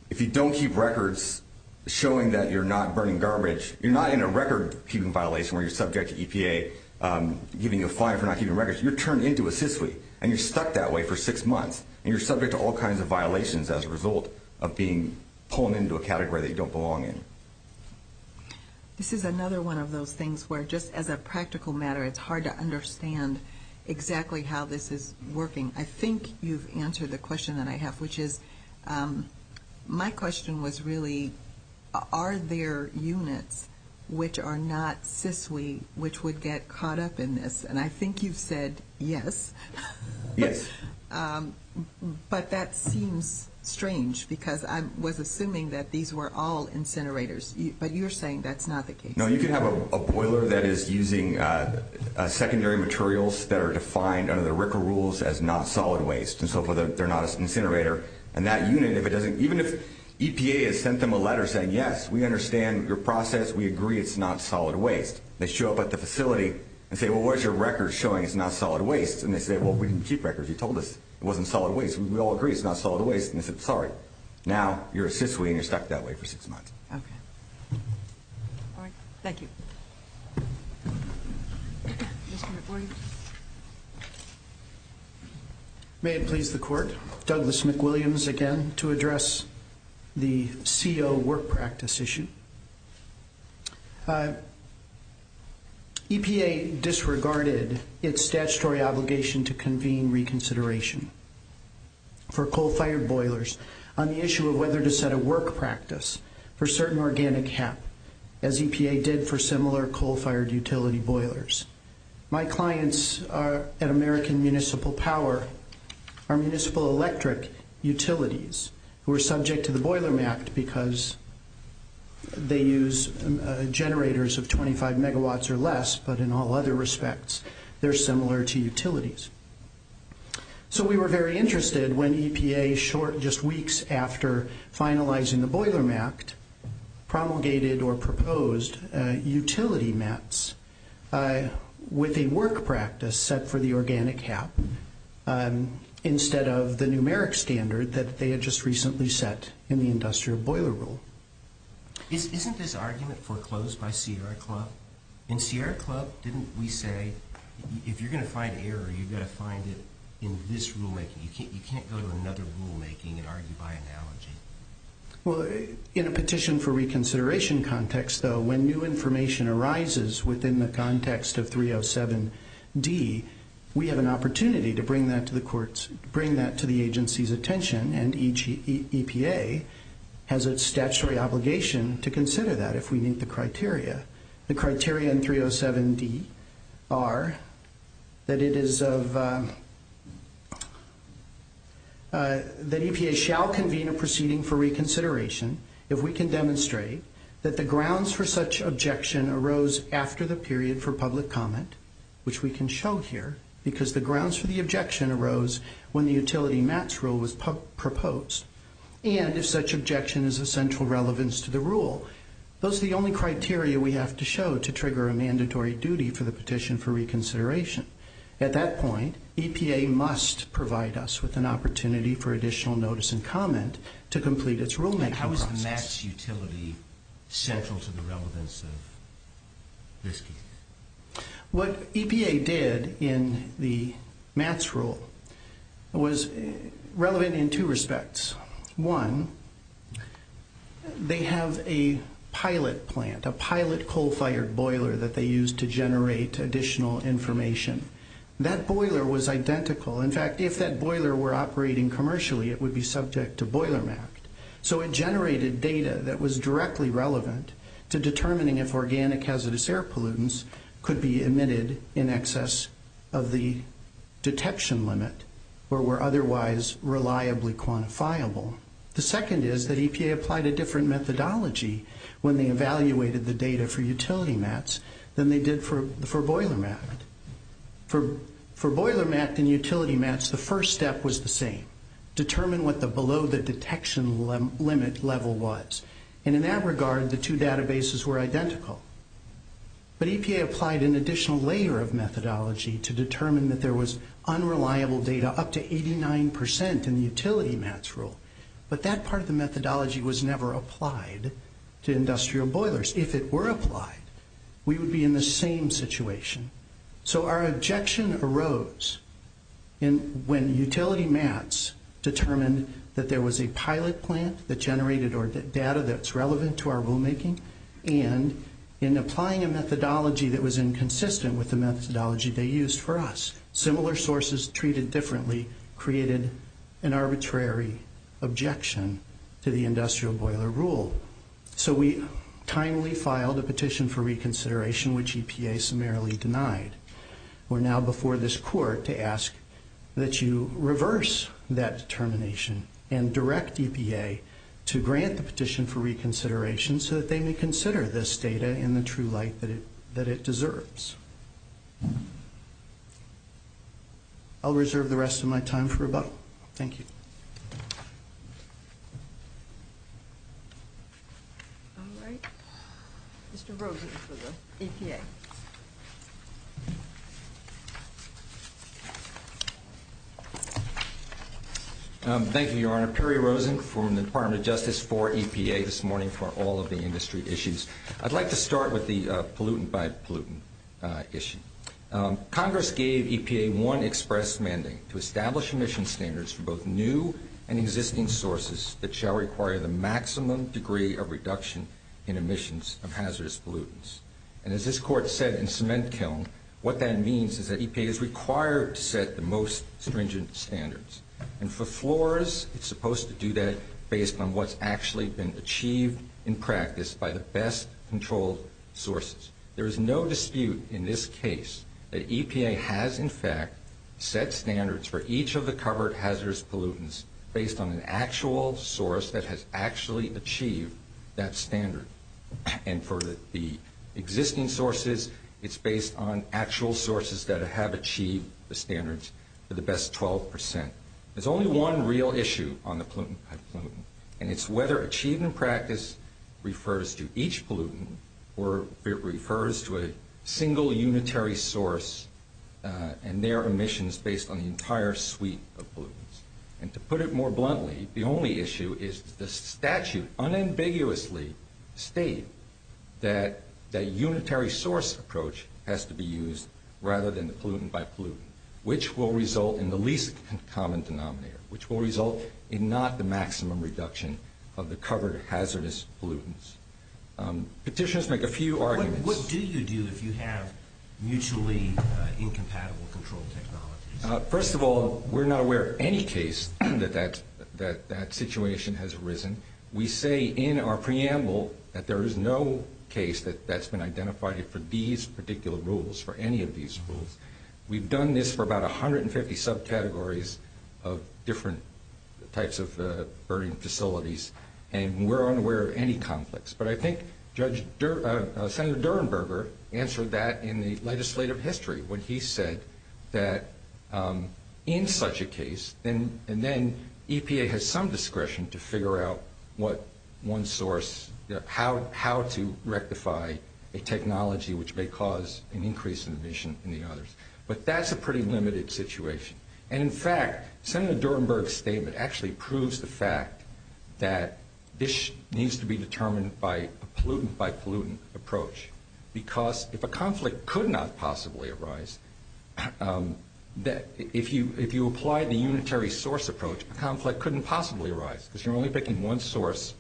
if you don't keep records showing that you're not burning garbage, you're not in a record-keeping violation where you're subject to EPA giving you a fine for not keeping records. You're turned into a SISWI, and you're stuck that way for six months. And you're subject to all kinds of violations as a result of being pulled into a category that you don't belong in. This is another one of those things where just as a practical matter, it's hard to understand exactly how this is working. I think you've answered the question that I have, which is my question was really, are there units which are not SISWI which would get caught up in this? And I think you've said yes. Yes. But that seems strange because I was assuming that these were all incinerators. But you're saying that's not the case. No, you can have a boiler that is using secondary materials that are defined under the RCRA rules as not solid waste. And so they're not an incinerator. And that unit, even if EPA has sent them a letter saying, yes, we understand your process. We agree it's not solid waste. They show up at the facility and say, well, what is your record showing it's not solid waste? And they say, well, we didn't keep records. You told us it wasn't solid waste. We all agree it's not solid waste. And they said, sorry. Now, you're a SISWI and you're stuck that way for six months. Okay. Thank you. May it please the Court, Douglas McWilliams again to address the CO work practice issue. EPA disregarded its statutory obligation to convene reconsideration for coal-fired boilers on the issue of whether to set a work practice for certain organic hemp, as EPA did for similar coal-fired utility boilers. My clients at American Municipal Power are municipal electric utilities who are subject to the Boilermact because they use generators of 25 megawatts or less, but in all other respects, they're similar to utilities. So we were very interested when EPA, just weeks after finalizing the Boilermact, promulgated or proposed utility mats with a work practice set for the organic hemp instead of the numeric standard that they had just recently set in the industrial boiler rule. Isn't this argument foreclosed by Sierra Club? In Sierra Club, didn't we say, if you're going to find error, you've got to find it in this rulemaking. You can't go to another rulemaking and argue by analogy. In a petition for reconsideration context, though, when new information arises within the context of 307D, we have an opportunity to bring that to the agency's attention, and each EPA has its statutory obligation to consider that if we meet the criteria. The criteria in 307D are that EPA shall convene a proceeding for reconsideration if we can demonstrate that the grounds for such objection arose after the period for public comment, which we can show here, because the grounds for the objection arose when the utility mats rule was proposed, and if such objection is of central relevance to the rule. Those are the only criteria we have to show to trigger a mandatory duty for the petition for reconsideration. At that point, EPA must provide us with an opportunity for additional notice and comment to complete its rulemaking process. How is the mats utility central to the relevance of this? What EPA did in the mats rule was relevant in two respects. One, they have a pilot plant, a pilot coal-fired boiler that they use to generate additional information. That boiler was identical. In fact, if that boiler were operating commercially, it would be subject to boiler mat. So it generated data that was directly relevant to determining if organic hazardous air pollutants could be emitted in excess of the detection limit or were otherwise reliably quantifiable. The second is that EPA applied a different methodology when they evaluated the data for utility mats than they did for boiler mat. For boiler mats and utility mats, the first step was the same. Determine what the below the detection limit level was. And in that regard, the two databases were identical. But EPA applied an additional layer of methodology to determine that there was unreliable data up to 89% in the utility mats rule. But that part of the methodology was never applied to industrial boilers. If it were applied, we would be in the same situation. So our objection arose when utility mats determined that there was a pilot plant that generated data that's relevant to our rulemaking and in applying a methodology that was inconsistent with the methodology they used for us. Similar sources treated differently created an arbitrary objection to the industrial boiler rule. So we timely filed a petition for reconsideration, which EPA summarily denied. We're now before this court to ask that you reverse that determination and direct EPA to grant the petition for reconsideration so that they may consider this data in the true light that it deserves. I'll reserve the rest of my time for rebuttal. Thank you. All right. Mr. Rosen for the EPA. Thank you, Your Honor. Perry Rosen from the Department of Justice for EPA this morning for all of the industry issues. I'd like to start with the pollutant by pollutant issue. Congress gave EPA one express mandate to establish emission standards for both new and existing sources that shall require the maximum degree of reduction in emissions of hazardous pollutants. And as this court said in cement kiln, what that means is that EPA is required to set the most stringent standards. And for florists, it's supposed to do that based on what's actually been achieved in practice by the best controlled sources. There is no dispute in this case that EPA has, in fact, set standards for each of the covered hazardous pollutants based on an actual source that has actually achieved that standard. And for the existing sources, it's based on actual sources that have achieved the standards for the best 12%. There's only one real issue on the pollutant by pollutant, and it's whether achieving practice refers to each pollutant or if it refers to a single unitary source and their emissions based on the entire suite of pollutants. And to put it more bluntly, the only issue is the statute unambiguously states that the unitary source approach has to be used rather than the pollutant by pollutant, which will result in the least common denominator, which will result in not the maximum reduction of the covered hazardous pollutants. Petitioners make a few arguments. What is the deal if you have mutually incompatible control technologies? First of all, we're not aware of any case that that situation has arisen. We say in our preamble that there is no case that that's been identified for these particular rules, for any of these rules. We've done this for about 150 subcategories of different types of burning facilities, and we're unaware of any conflicts. But I think Senator Durenberger answered that in the legislative history when he said that in such a case, and then EPA has some discretion to figure out what one source, how to rectify a technology which may cause an increase in emission in the others. But that's a pretty limited situation. In fact, Senator Durenberger's statement actually proves the fact that this needs to be determined by a pollutant by pollutant approach. Because if a conflict could not possibly arise, if you apply the unitary source approach, a conflict couldn't possibly arise, because you're only picking one source,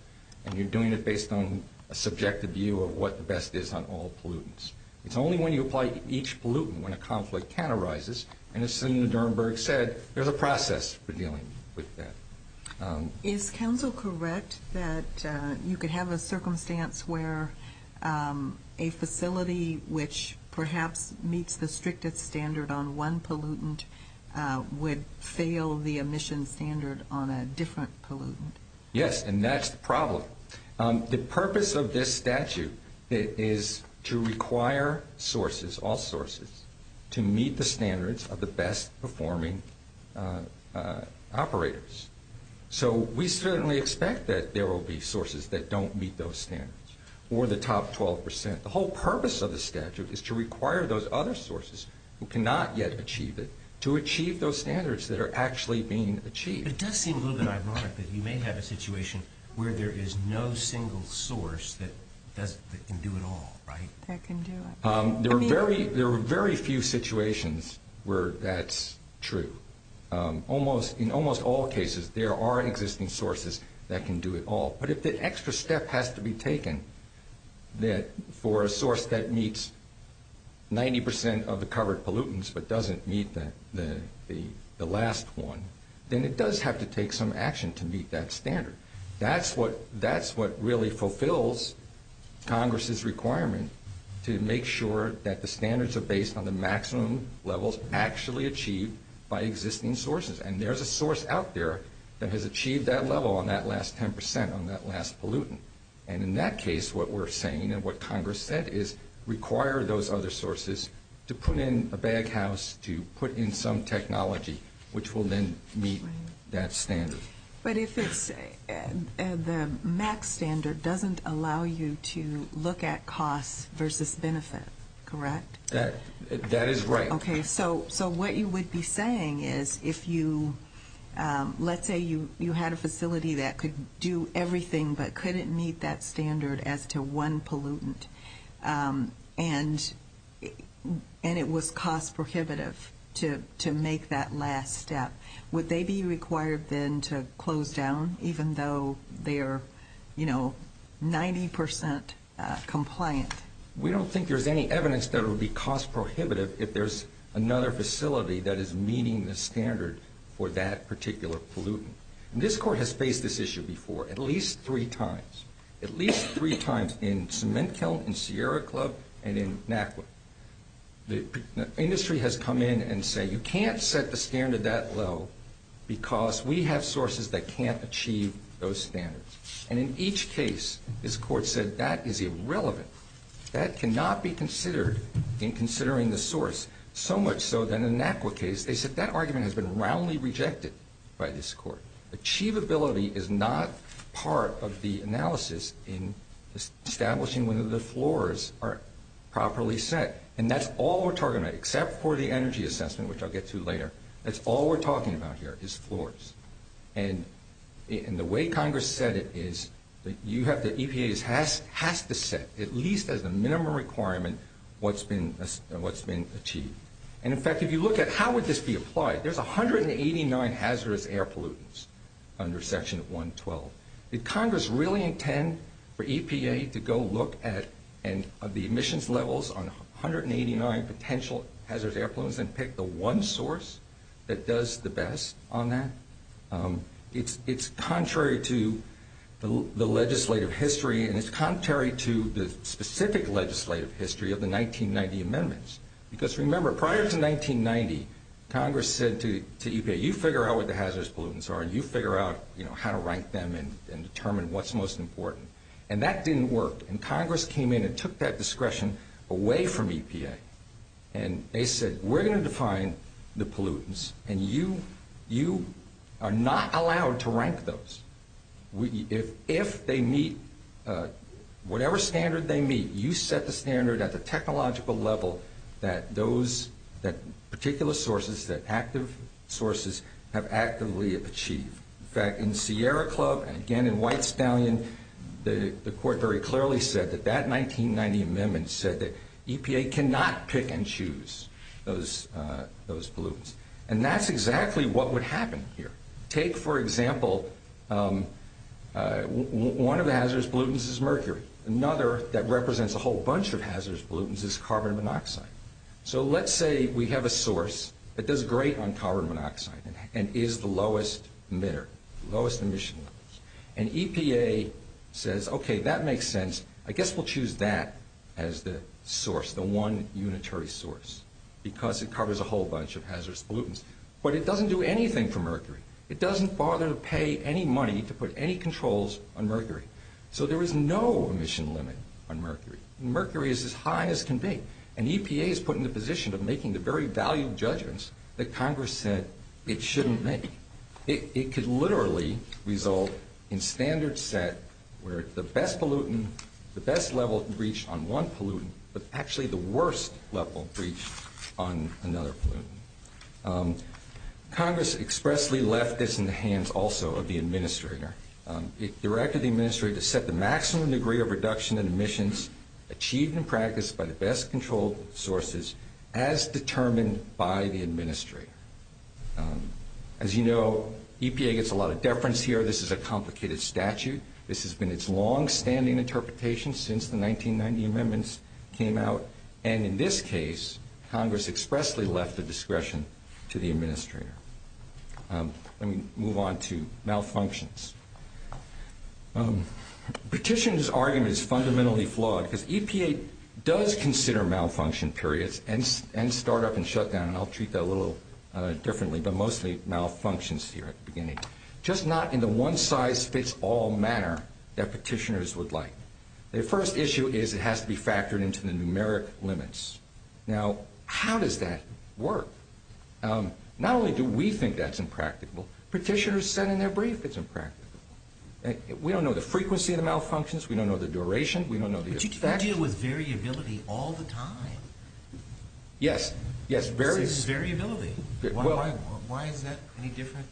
and you're doing it based on a subjective view of what the best is on all pollutants. It's only when you apply each pollutant when a conflict can arises, and as Senator Durenberger said, there's a process for dealing with that. Is counsel correct that you could have a circumstance where a facility which perhaps meets the strictest standard on one pollutant would fail the emission standard on a different pollutant? Yes, and that's the problem. The purpose of this statute is to require sources, all sources, to meet the standards of the best performing operators. So we certainly expect that there will be sources that don't meet those standards, or the top 12%. The whole purpose of the statute is to require those other sources who cannot yet achieve it to achieve those standards that are actually being achieved. It does seem a little bit ironic that you may have a situation where there is no single source that can do it all, right? That can do it. There are very few situations where that's true. In almost all cases, there are existing sources that can do it all. But if the extra step has to be taken for a source that meets 90% of the covered pollutants but doesn't meet the last one, then it does have to take some action to meet that standard. That's what really fulfills Congress's requirement to make sure that the standards are based on the maximum levels actually achieved by existing sources. And there's a source out there that has achieved that level on that last 10%, on that last pollutant. And in that case, what we're saying and what Congress said is require those other sources to put in a baghouse, to put in some technology, which will then meet that standard. But if the max standard doesn't allow you to look at cost versus benefit, correct? That is right. Okay. So what you would be saying is if you – let's say you had a facility that could do everything but couldn't meet that standard as to one pollutant, and it was cost prohibitive to make that last step, would they be required then to close down even though they're 90% compliant? We don't think there's any evidence that it would be cost prohibitive if there's another facility that is meeting the standard for that particular pollutant. And this court has faced this issue before at least three times. At least three times in Cement Kiln, in Sierra Club, and in NACWP. The industry has come in and said you can't set the standard that low because we have sources that can't achieve those standards. And in each case, this court said that is irrelevant. That cannot be considered in considering the source, so much so that in NACWP case, they said that argument has been roundly rejected by this court. Achievability is not part of the analysis in establishing whether the floors are properly set. And that's all we're talking about except for the energy assessment, which I'll get to later. That's all we're talking about here is floors. And the way Congress said it is that EPA has to set at least as a minimum requirement what's been achieved. And in fact, if you look at how would this be applied, there's 189 hazardous air pollutants under Section 112. Did Congress really intend for EPA to go look at the emissions levels on 189 potential hazardous air pollutants and pick the one source that does the best on that? It's contrary to the legislative history, and it's contrary to the specific legislative history of the 1990 amendments. Because remember, prior to 1990, Congress said to EPA, you figure out what the hazardous pollutants are, and you figure out how to rank them and determine what's most important. And that didn't work. And Congress came in and took that discretion away from EPA. And they said, we're going to define the pollutants, and you are not allowed to rank those. If they meet whatever standard they meet, you set the standard at the technological level that those particular sources, that active sources, have actively achieved. In fact, in Sierra Club and again in White Stallion, the court very clearly said that that 1990 amendment said that EPA cannot pick and choose those pollutants. And that's exactly what would happen here. Take, for example, one of the hazardous pollutants is mercury. Another that represents a whole bunch of hazardous pollutants is carbon monoxide. So let's say we have a source that does great on carbon monoxide and is the lowest emitter, lowest emission. And EPA says, okay, that makes sense. I guess we'll choose that as the source, the one unitary source, because it covers a whole bunch of hazardous pollutants. But it doesn't do anything for mercury. It doesn't bother to pay any money to put any controls on mercury. So there is no emission limit on mercury. Mercury is as high as it can be. And EPA is put in the position of making the very valued judgments that Congress said it shouldn't make. It could literally result in standards set where the best level of breach on one pollutant is actually the worst level of breach on another pollutant. Congress expressly left this in the hands also of the administrator. It directed the administrator to set the maximum degree of reduction in emissions achieved in practice by the best controlled sources as determined by the administrator. As you know, EPA gets a lot of deference here. This is a complicated statute. This has been its longstanding interpretation since the 1990 amendments came out. And in this case, Congress expressly left the discretion to the administrator. Let me move on to malfunctions. Petition's argument is fundamentally flawed because EPA does consider malfunction periods and start up and shut down. I'll treat that a little differently. But mostly malfunctions here at the beginning. Just not in the one size fits all manner that petitioners would like. The first issue is it has to be factored into the numeric limits. Now, how does that work? Not only do we think that's impractical, petitioners said in their brief it's impractical. We don't know the frequency of the malfunctions. We don't know the duration. You deal with variability all the time. Yes. Variability. Why is that any different?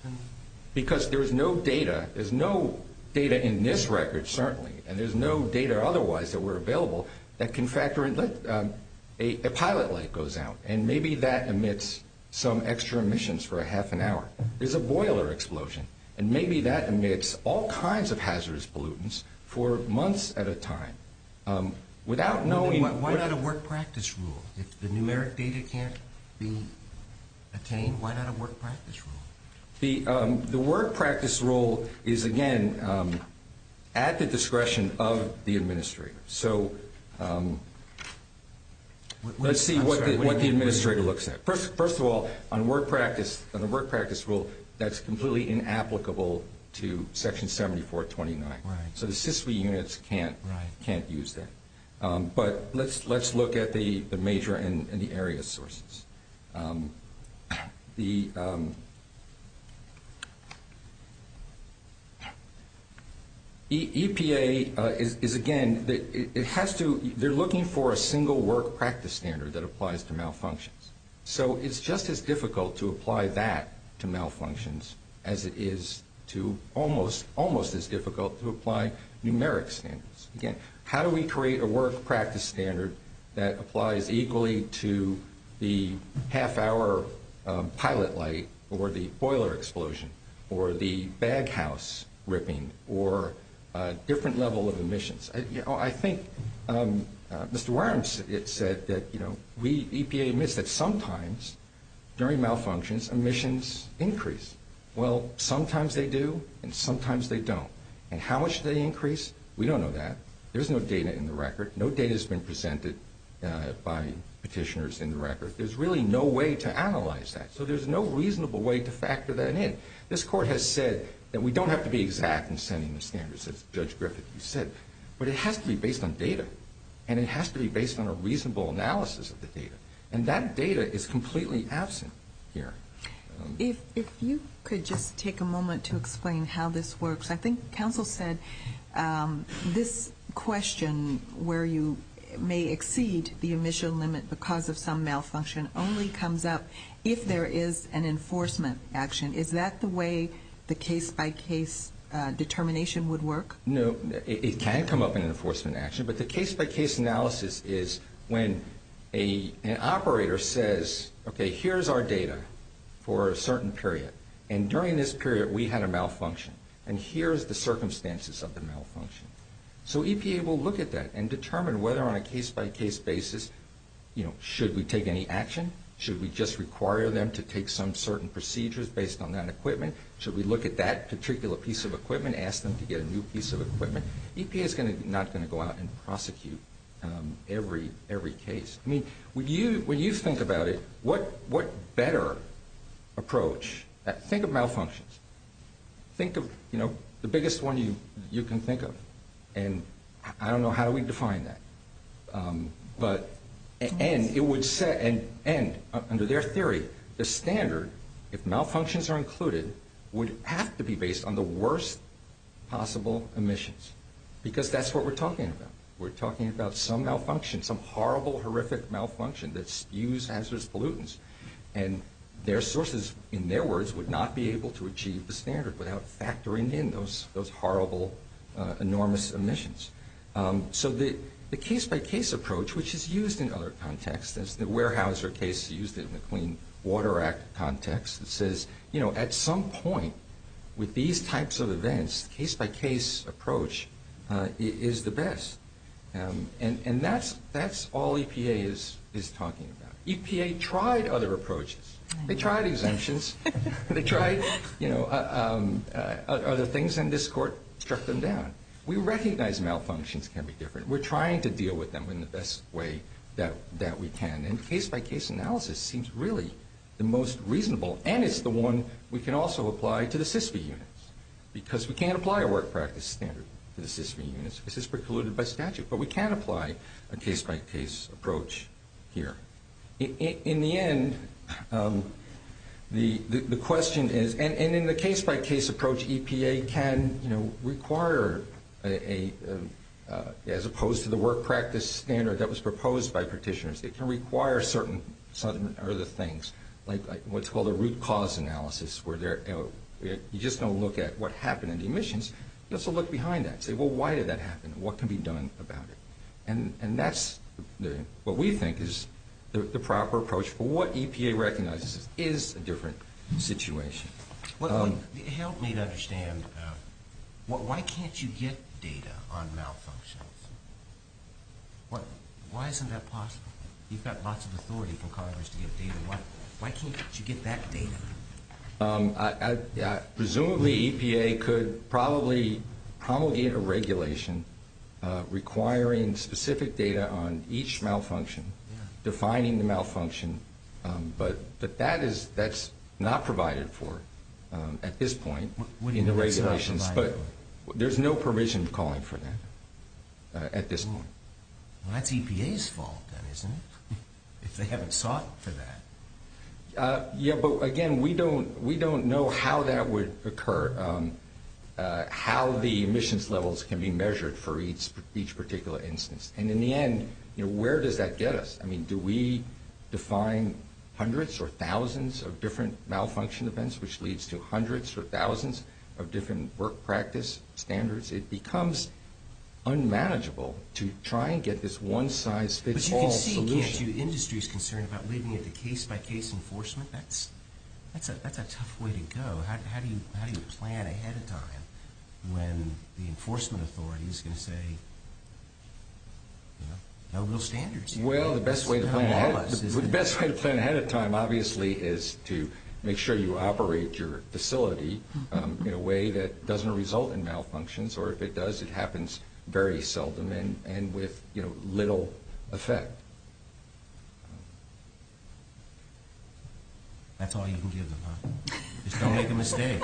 Because there's no data. There's no data in this record, certainly, and there's no data otherwise that were available that can factor in. A pilot light goes out and maybe that emits some extra emissions for a half an hour. There's a boiler explosion. And maybe that emits all kinds of hazardous pollutants for months at a time. Why not a work practice rule? If the numeric data can't be obtained, why not a work practice rule? The work practice rule is, again, at the discretion of the administrator. So let's see what the administrator looks at. First of all, on a work practice rule, that's completely inapplicable to Section 7429. So the SISVI units can't use that. But let's look at the major and the area sources. The EPA is, again, they're looking for a single work practice standard that applies to malfunctions. So it's just as difficult to apply that to malfunctions as it is to almost as difficult to apply numeric standards. Again, how do we create a work practice standard that applies equally to the half hour pilot light or the boiler explosion or the bag house ripping or different level of emissions? I think Mr. Worms said that EPA admits that sometimes during malfunctions emissions increase. Well, sometimes they do and sometimes they don't. And how much they increase, we don't know that. There's no data in the record. No data has been presented by petitioners in the record. There's really no way to analyze that. So there's no reasonable way to factor that in. This court has said that we don't have to be exact in sending the standards, as Judge Griffith said, but it has to be based on data and it has to be based on a reasonable analysis of the data. And that data is completely absent here. If you could just take a moment to explain how this works. I think counsel said this question where you may exceed the emission limit because of some malfunction only comes up if there is an enforcement action. Is that the way the case-by-case determination would work? No. It can come up in enforcement action, but the case-by-case analysis is when an operator says, okay, here's our data for a certain period. And during this period we had a malfunction. And here's the circumstances of the malfunction. So EPA will look at that and determine whether on a case-by-case basis should we take any action? Should we just require them to take some certain procedures based on that equipment? Should we look at that particular piece of equipment, ask them to get a new piece of equipment? EPA is not going to go out and prosecute every case. I mean, when you think about it, what better approach? Think of malfunctions. Think of, you know, the biggest one you can think of. And I don't know how we define that. And under their theory, the standard, if malfunctions are included, would have to be based on the worst possible emissions. Because that's what we're talking about. We're talking about some malfunction, some horrible, horrific malfunction that's used as pollutants. And their sources, in their words, would not be able to achieve the standard without factoring in those horrible, enormous emissions. So the case-by-case approach, which is used in other contexts, as the Weyerhaeuser case is used in the Clean Water Act context, it says, you know, at some point with these types of events, case-by-case approach is the best. And that's all EPA is talking about. EPA tried other approaches. They tried exemptions. They tried, you know, other things. And this court struck them down. We recognize malfunctions can be different. We're trying to deal with them in the best way that we can. And case-by-case analysis seems really the most reasonable, and it's the one we can also apply to the SISV units. Because we can't apply a work practice standard to the SISV units. This is precluded by statute. But we can apply a case-by-case approach here. In the end, the question is, and in the case-by-case approach, EPA can require, as opposed to the work practice standard that was proposed by petitioners, it can require certain other things, like what's called a root cause analysis, where you just don't look at what happened in the emissions. You also look behind that. You say, well, why did that happen? What can be done about it? And that's what we think is the proper approach. But what EPA recognizes is a different situation. Help me to understand, why can't you get data on malfunctions? Why isn't that possible? You've got lots of authority from Congress to get data. Why can't you get that data? Presumably, EPA could probably promulgate a regulation requiring specific data on each malfunction, defining the malfunction. But that's not provided for at this point in the regulations. But there's no provision calling for that at this moment. That's EPA's fault, isn't it, if they haven't sought for that? Yeah, but again, we don't know how that would occur, how the emissions levels can be measured for each particular instance. And in the end, where does that get us? Do we define hundreds or thousands of different malfunction events, which leads to hundreds or thousands of different work practice standards? It becomes unmanageable to try and get this one-size-fits-all solution. The industry is concerned about leaving it to case-by-case enforcement. That's a tough way to go. How do you plan ahead of time when the enforcement authority is going to say, you know, no real standards here? Well, the best way to plan ahead of time, obviously, is to make sure you operate your facility in a way that doesn't result in malfunctions. Or if it does, it happens very seldom and with little effect. That's all you can give them, huh? Don't make a mistake.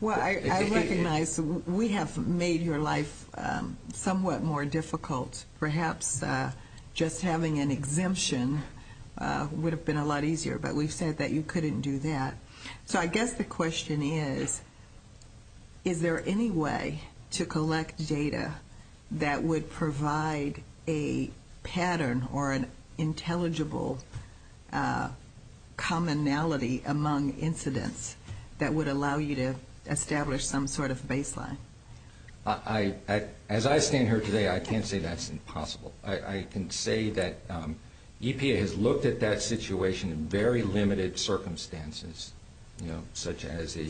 Well, I recognize we have made your life somewhat more difficult. Perhaps just having an exemption would have been a lot easier, but we've said that you couldn't do that. So I guess the question is, is there any way to collect data that would provide a pattern or an intelligible commonality among incidents that would allow you to establish some sort of baseline? As I stand here today, I can't say that's impossible. I can say that EPA has looked at that situation in very limited circumstances, such as a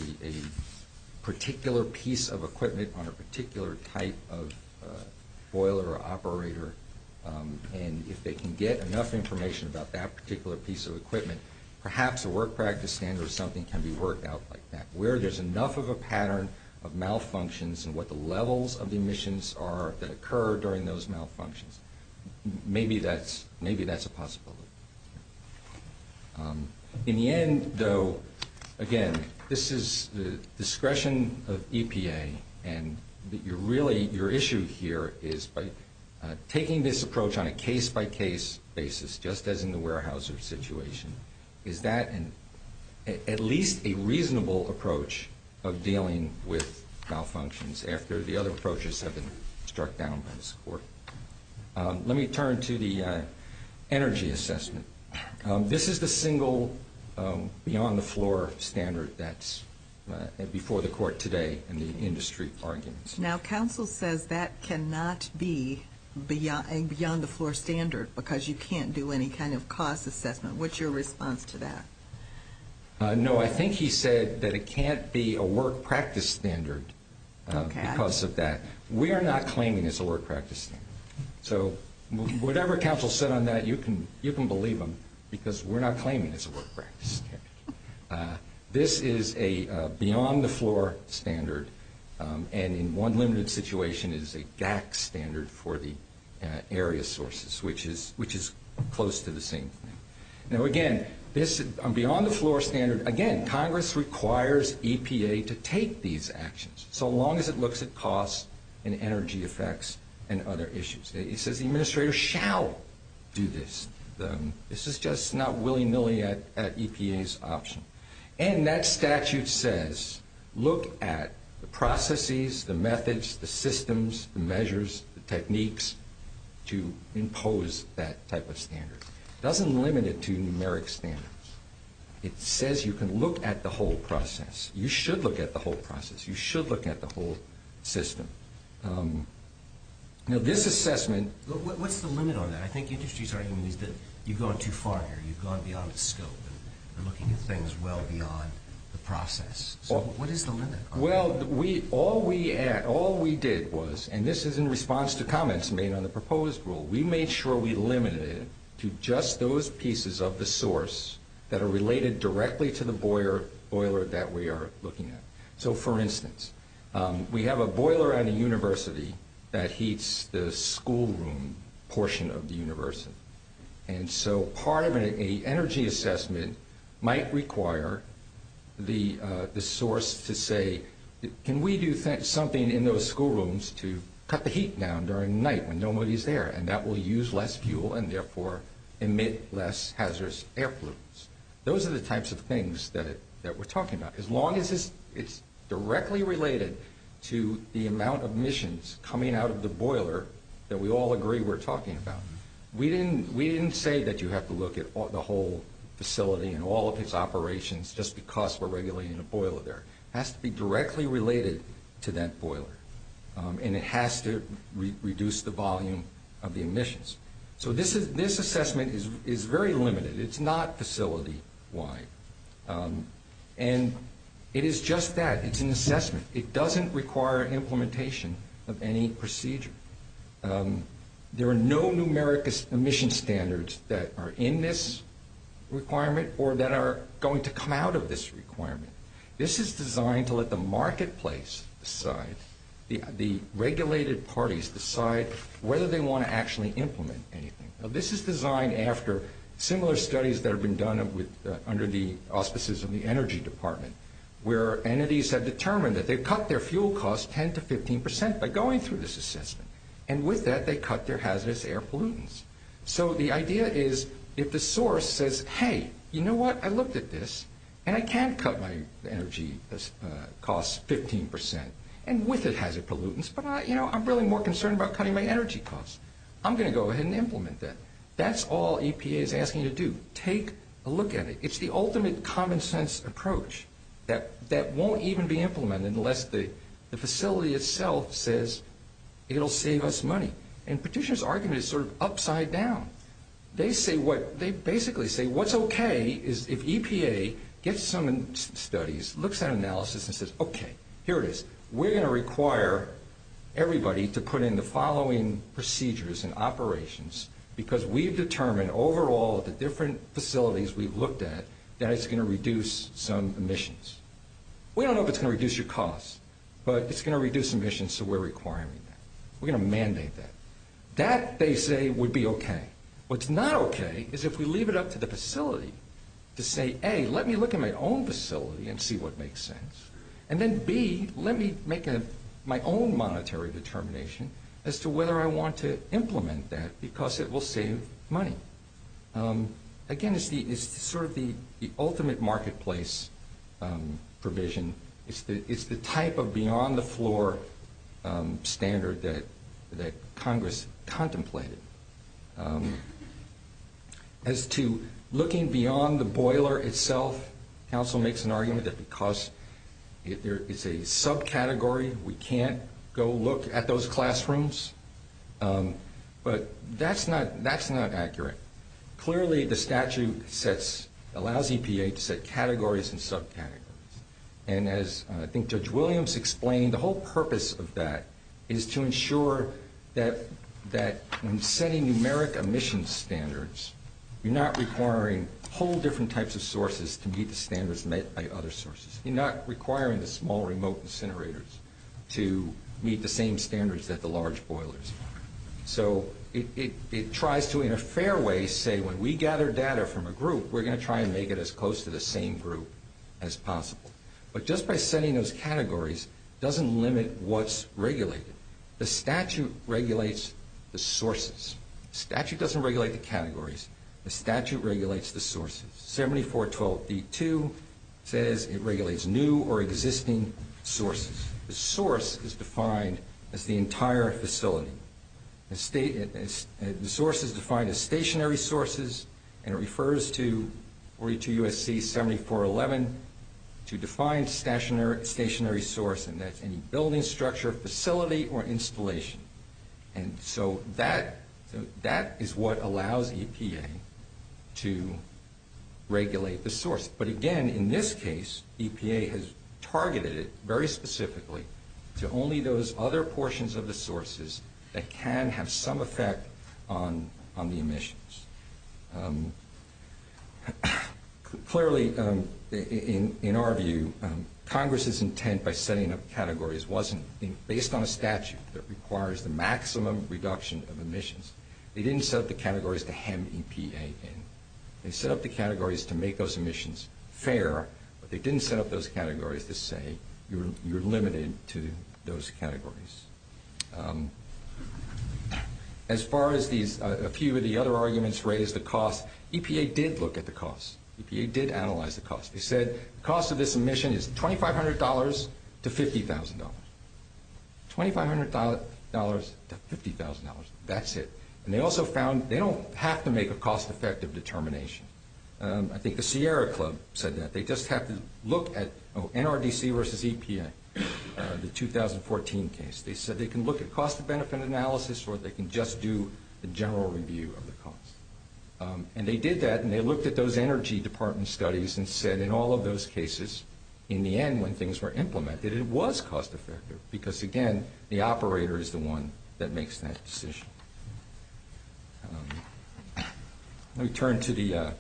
particular piece of equipment on a particular type of boiler or operator, and if they can get enough information about that particular piece of equipment, perhaps a work practice standard or something can be worked out like that, where there's enough of a pattern of malfunctions and what the levels of the emissions are that occur during those malfunctions. Maybe that's a possibility. In the end, though, again, this is the discretion of EPA, and really your issue here is by taking this approach on a case-by-case basis, just as in the warehouser situation, is that at least a reasonable approach of dealing with malfunctions after the other approaches have been struck down by this court? Let me turn to the energy assessment. This is the single beyond-the-floor standard that's before the court today in the industry arguments. Now, counsel says that cannot be a beyond-the-floor standard because you can't do any kind of cost assessment. What's your response to that? No, I think he said that it can't be a work practice standard because of that. We are not claiming it's a work practice standard. So whatever counsel said on that, you can believe him, because we're not claiming it's a work practice standard. This is a beyond-the-floor standard, and in one limited situation, it is a DAC standard for the area sources, which is close to the same thing. Now, again, this beyond-the-floor standard, again, Congress requires EPA to take these actions, so long as it looks at costs and energy effects and other issues. He says the administrator shall do this. This is just not willy-nilly at EPA's option. And that statute says look at the processes, the methods, the systems, the measures, the techniques to impose that type of standard. It doesn't limit it to numeric standards. It says you can look at the whole process. You should look at the whole process. You should look at the whole system. Now, this assessment— What's the limit on that? I think industry's argument is that you've gone too far here. You've gone beyond the scope. You're looking at things well beyond the process. So what is the limit? Well, all we did was, and this is in response to comments made on the proposed rule, we made sure we limited it to just those pieces of the source that are related directly to the boiler that we are looking at. So, for instance, we have a boiler at a university that heats the schoolroom portion of the university. And so part of an energy assessment might require the source to say, can we do something in those schoolrooms to cut the heat down during the night when nobody's there, and that will use less fuel and therefore emit less hazardous air pollutants. Those are the types of things that we're talking about. As long as it's directly related to the amount of emissions coming out of the boiler that we all agree we're talking about, we didn't say that you have to look at the whole facility and all of its operations just because we're regulating the boiler there. It has to be directly related to that boiler, and it has to reduce the volume of the emissions. So this assessment is very limited. It's not facility-wide. And it is just that. It's an assessment. It doesn't require implementation of any procedure. There are no numeric emission standards that are in this requirement or that are going to come out of this requirement. This is designed to let the marketplace decide, the regulated parties decide whether they want to actually implement anything. This is designed after similar studies that have been done under the auspices of the Energy Department, where entities have determined that they've cut their fuel costs 10% to 15% by going through this assessment. And with that, they cut their hazardous air pollutants. So the idea is if the source says, hey, you know what, I looked at this, and I can't cut my energy costs 15% and with the hazardous pollutants, but I'm really more concerned about cutting my energy costs. I'm going to go ahead and implement that. That's all EPA is asking you to do. Take a look at it. It's the ultimate common sense approach that won't even be implemented unless the facility itself says it will save us money. And Petitioner's argument is sort of upside down. They basically say what's okay is if EPA gets some studies, looks at analysis, and says, okay, here it is. We're going to require everybody to put in the following procedures and operations because we've determined overall at the different facilities we've looked at that it's going to reduce some emissions. We don't know if it's going to reduce your costs, but it's going to reduce emissions, so we're requiring that. We're going to mandate that. That, they say, would be okay. What's not okay is if we leave it up to the facility to say, A, let me look at my own facility and see what makes sense, and then, B, let me make my own monetary determination as to whether I want to Again, it's sort of the ultimate marketplace provision. It's the type of beyond-the-floor standard that Congress contemplated. As to looking beyond the boiler itself, Council makes an argument that because it's a subcategory, we can't go look at those classrooms. But that's not accurate. Clearly, the statute allows EPA to set categories and subcategories, and as I think Judge Williams explained, the whole purpose of that is to ensure that in setting numeric emissions standards, you're not requiring whole different types of sources to meet the standards met by other sources. You're not requiring the small remote incinerators to meet the same standards that the large boilers meet. So it tries to, in a fair way, say when we gather data from a group, we're going to try and make it as close to the same group as possible. But just by setting those categories doesn't limit what's regulated. The statute regulates the sources. The statute doesn't regulate the categories. The statute regulates the sources. 7412D2 says it regulates new or existing sources. The source is defined as the entire facility. The source is defined as stationary sources, and it refers to 42 U.S.C. 7411 to define stationary source, and that's any building structure, facility, or installation. And so that is what allows EPA to regulate the source. But again, in this case, EPA has targeted it very specifically to only those other portions of the sources that can have some effect on the emissions. Clearly, in our view, Congress's intent by setting up categories wasn't based on a statute that requires the maximum reduction of emissions. They didn't set up the categories to hem EPA in. They set up the categories to make those emissions fair, but they didn't set up those categories to say you're limited to those categories. As far as a few of the other arguments raised the cost, EPA did look at the cost. EPA did analyze the cost. They said the cost of this emission is $2,500 to $50,000. $2,500 to $50,000, that's it. And they also found they don't have to make a cost-effective determination. I think the Sierra Club said that. They just have to look at NRDC versus EPA, the 2014 case. They said they can look at cost-benefit analysis, or they can just do the general review of the cost. And they did that, and they looked at those energy department studies and said in all of those cases, in the end, when things were implemented, that it was cost-effective because, again, the operator is the one that makes that decision. Let me turn to the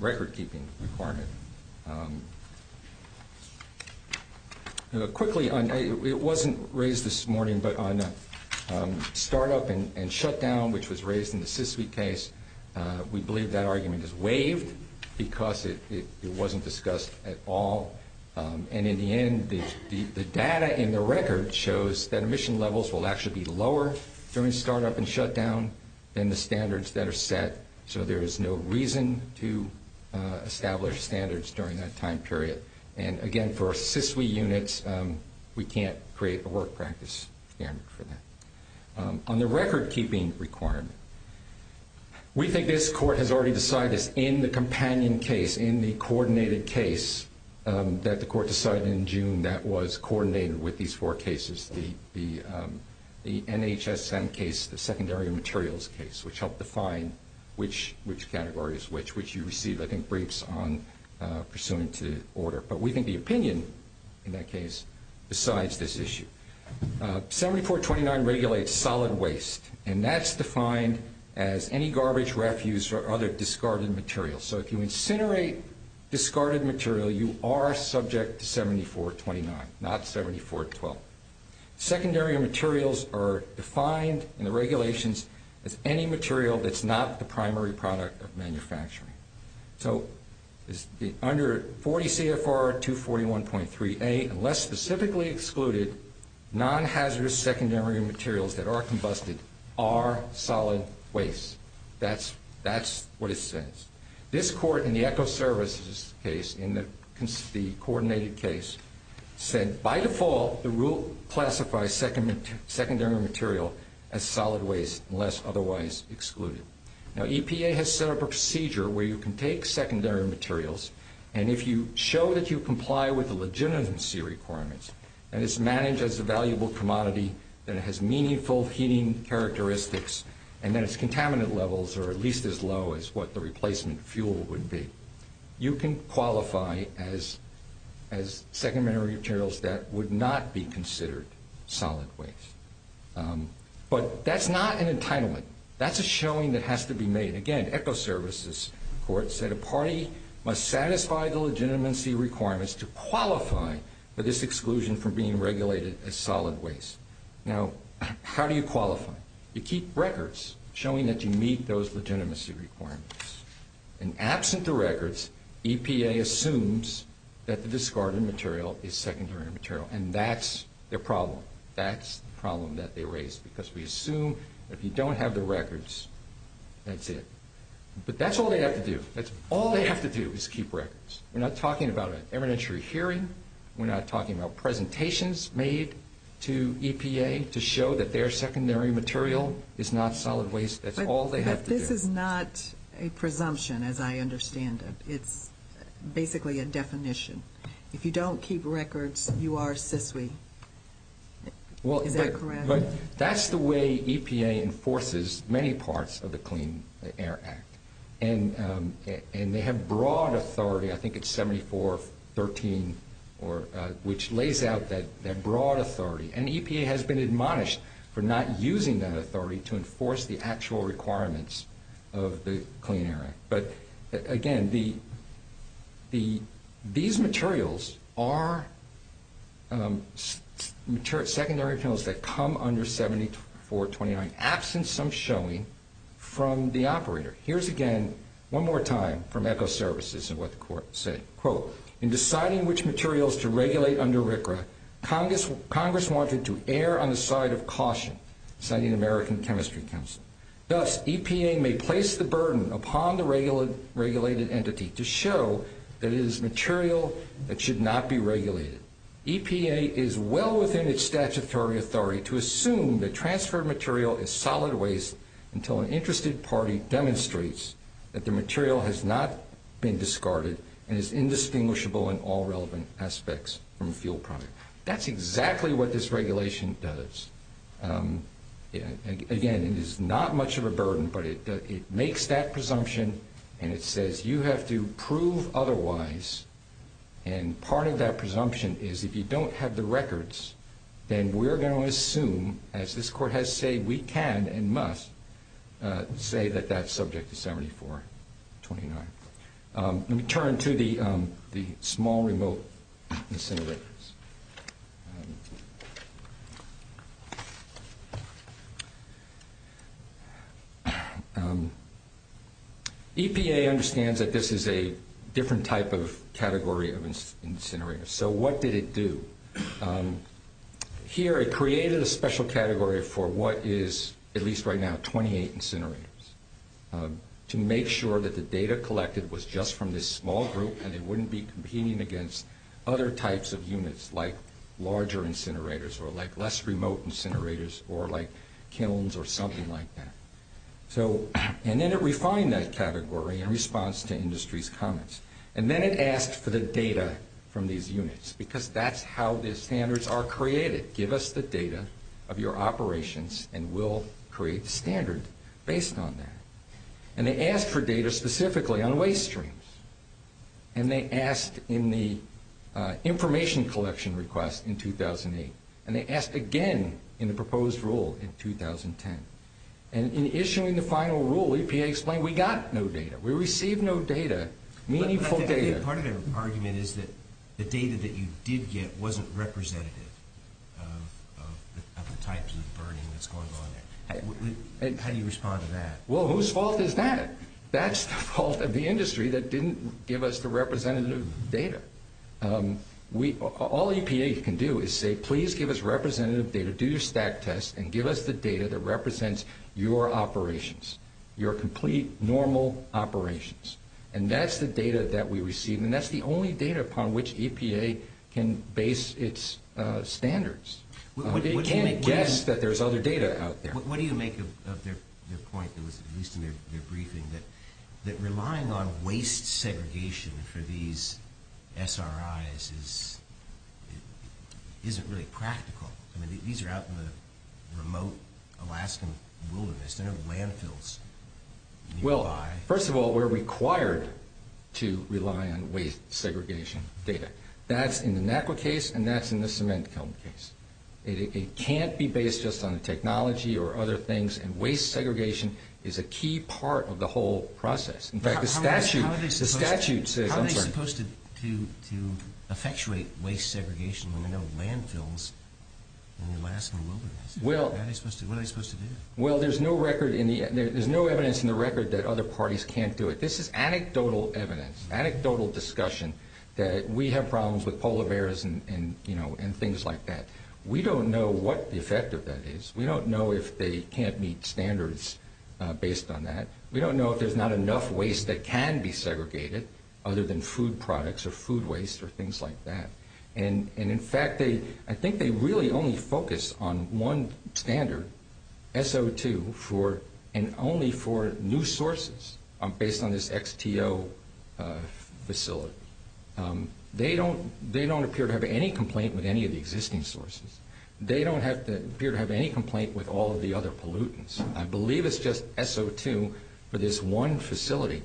record-keeping requirement. Quickly, it wasn't raised this morning, but on startup and shutdown, which was raised in the Siskiyou case, we believe that argument is waived because it wasn't discussed at all. And in the end, the data in the record shows that emission levels will actually be lower during startup and shutdown than the standards that are set, so there is no reason to establish standards during that time period. And, again, for our CISWE units, we can't create a work practice standard for them. On the record-keeping requirement, we think this court has already decided that in the companion case, in the coordinated case that the court decided in June, that was coordinated with these four cases, the NHSN case, the secondary materials case, which helped define which category is which, which you receive, I think, briefs on, pursuant to the order. But we think the opinion in that case decides this issue. 7429 regulates solid waste, and that's defined as any garbage, refuse, or other discarded material. So if you incinerate discarded material, you are subject to 7429, not 7412. Secondary materials are defined in the regulations as any material that's not the primary product of manufacturing. So under 40 CFR 241.3a, unless specifically excluded, non-hazardous secondary materials that are combusted are solid waste. That's what it says. This court in the ECHO services case, in the coordinated case, said by default, the rule classifies secondary material as solid waste unless otherwise excluded. Now EPA has set up a procedure where you can take secondary materials, and if you show that you comply with the legitimacy requirements, and it's managed as a valuable commodity, and it has meaningful heating characteristics, and then its contaminant levels are at least as low as what the replacement fuel would be, you can qualify as secondary materials that would not be considered solid waste. But that's not an entitlement. That's a showing that has to be made. Again, ECHO services court said a party must satisfy the legitimacy requirements to qualify for this exclusion from being regulated as solid waste. Now, how do you qualify? You keep records showing that you meet those legitimacy requirements. And absent the records, EPA assumes that the discarded material is secondary material, and that's the problem. That's the problem that they raise, because we assume that if you don't have the records, that's it. But that's all they have to do. That's all they have to do is keep records. We're not talking about an evidentiary hearing. We're not talking about presentations made to EPA to show that their secondary material is not solid waste. That's all they have to do. This is not a presumption, as I understand it. It's basically a definition. If you don't keep records, you are a SISLI. Is that correct? That's the way EPA enforces many parts of the Clean Air Act. And they have broad authority, I think it's 7413, which lays out that broad authority. And EPA has been admonished for not using that authority to enforce the actual requirements of the Clean Air Act. But, again, these materials are secondary materials that come under 7429, absent some showing from the operator. Here's again, one more time, from Echo Services and what the court said. Quote, in deciding which materials to regulate under RCRA, Congress wanted to err on the side of caution, citing the American Chemistry Council. Thus, EPA may place the burden upon the regulated entity to show that it is material that should not be regulated. EPA is well within its statutory authority to assume that transferred material is solid waste until an interested party demonstrates that the material has not been discarded and is indistinguishable in all relevant aspects from the fuel product. That's exactly what this regulation does. Again, it is not much of a burden, but it makes that presumption and it says you have to prove otherwise. And part of that presumption is if you don't have the records, then we're going to assume, as this court has said, we can and must say that that subject is 7429. Let me turn to the small remote incinerators. EPA understands that this is a different type of category of incinerator. So what did it do? Here, it created a special category for what is, at least right now, 28 incinerators to make sure that the data collected was just from this small group and it wouldn't be competing against other types of units. Like larger incinerators or like less remote incinerators or like kilns or something like that. And then it refined that category in response to industry's comments. And then it asked for the data from these units because that's how the standards are created. Give us the data of your operations and we'll create a standard based on that. And they asked for data specifically on waste streams. And they asked in the information collection request in 2008. And they asked again in the proposed rule in 2010. And in issuing the final rule, EPA explained we got no data. We received no data, meaningful data. Part of the argument is that the data that you did get wasn't representative of the types of burning that's going on there. How do you respond to that? Well, whose fault is that? That's the fault of the industry that didn't give us the representative data. All EPA can do is say please give us representative data, do your stat test, and give us the data that represents your operations, your complete normal operations. And that's the data that we received. And that's the only data upon which EPA can base its standards. They can't guess that there's other data out there. What do you make of their point, at least in their briefing, that relying on waste segregation for these SRIs isn't really practical? I mean, these are out in the remote Alaskan wilderness. They're in the landfills. Well, first of all, we're required to rely on waste segregation data. That's in the NACWA case and that's in the cement company case. It can't be based just on technology or other things, and waste segregation is a key part of the whole process. In fact, the statute says... How are they supposed to effectuate waste segregation in the landfills in the Alaskan wilderness? What are they supposed to do? Well, there's no evidence in the record that other parties can't do it. This is anecdotal evidence, anecdotal discussion, that we have problems with polar bears and things like that. We don't know what the effect of that is. We don't know if they can't meet standards based on that. We don't know if there's not enough waste that can be segregated, other than food products or food waste or things like that. In fact, I think they really only focus on one standard, SO2, and only for new sources based on this XTO facility. They don't appear to have any complaint with any of the existing sources. They don't appear to have any complaint with all of the other pollutants. I believe it's just SO2 for this one facility.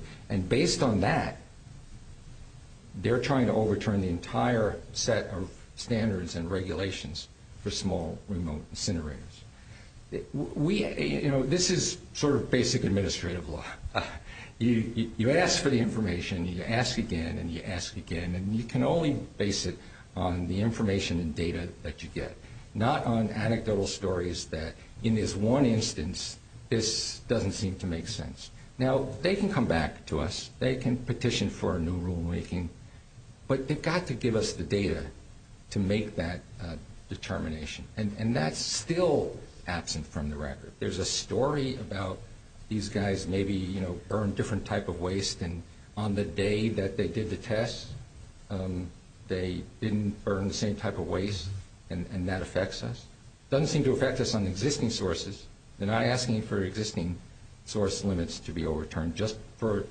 Based on that, they're trying to overturn the entire set of standards and regulations for small, remote incinerators. This is sort of basic administrative law. You ask for the information, and you ask again, and you ask again, and you can only base it on the information and data that you get, not on anecdotal stories that, in this one instance, this doesn't seem to make sense. Now, they can come back to us. They can petition for a new rulemaking, but they've got to give us the data to make that determination. And that's still absent from the record. There's a story about these guys maybe burned a different type of waste, and on the day that they did the test, they didn't burn the same type of waste, and that affects us. It doesn't seem to affect us on existing sources. They're not asking for existing source limits to be overturned, just for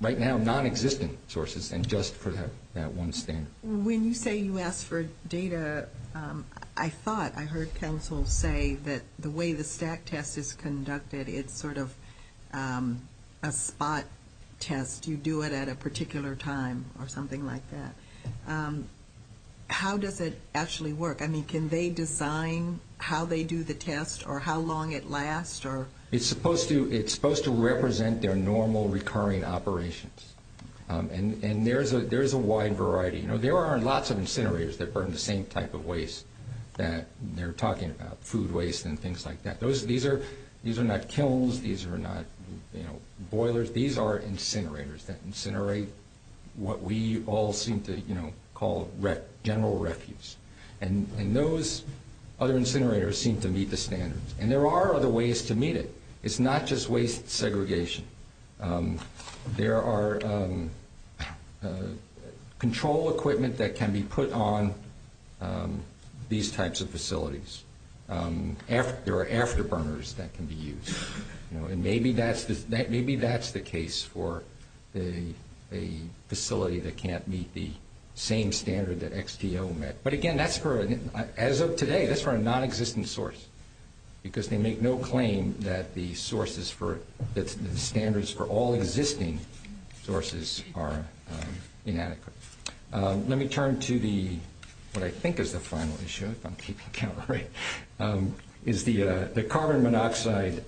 right now non-existing sources and just for that one standard. When you say you ask for data, I thought, I heard counsel say, that the way the stack test is conducted is sort of a spot test. You do it at a particular time or something like that. How does it actually work? I mean, can they define how they do the test or how long it lasts? It's supposed to represent their normal recurring operations, and there's a wide variety. There are lots of incinerators that burn the same type of waste that they're talking about, food waste and things like that. These are not kilns. These are not boilers. These are incinerators that incinerate what we all seem to call general refuse, and those other incinerators seem to meet the standards, and there are other ways to meet it. It's not just waste segregation. There are control equipment that can be put on these types of facilities. There are afterburners that can be used, and maybe that's the case for a facility that can't meet the same standard that XTO met. But, again, as of today, that's for a non-existent source because they make no claim that the standards for all existing sources are inadequate. Let me turn to what I think is the final issue, if I'm keeping count right, is the carbon monoxide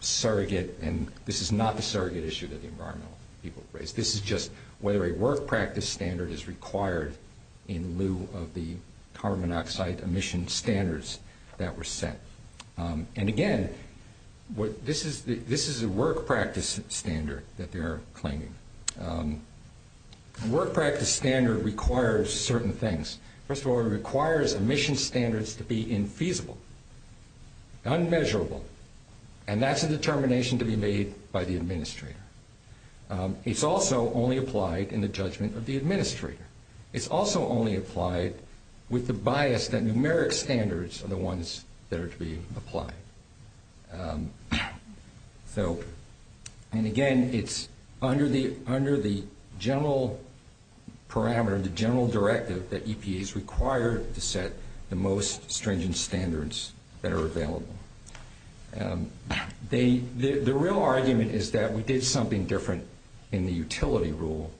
surrogate, and this is not a surrogate issue that the environmental people raised. This is just whether a work practice standard is required in lieu of the carbon monoxide emission standards that were set, and, again, this is a work practice standard that they're claiming. A work practice standard requires certain things. First of all, it requires emission standards to be infeasible, unmeasurable, and that's a determination to be made by the administrator. It's also only applied in the judgment of the administrator. It's also only applied with the bias that numeric standards are the ones that are to be applied. And, again, it's under the general parameter, the general directive, that EPAs require to set the most stringent standards that are available. The real argument is that we did something different in the utility rule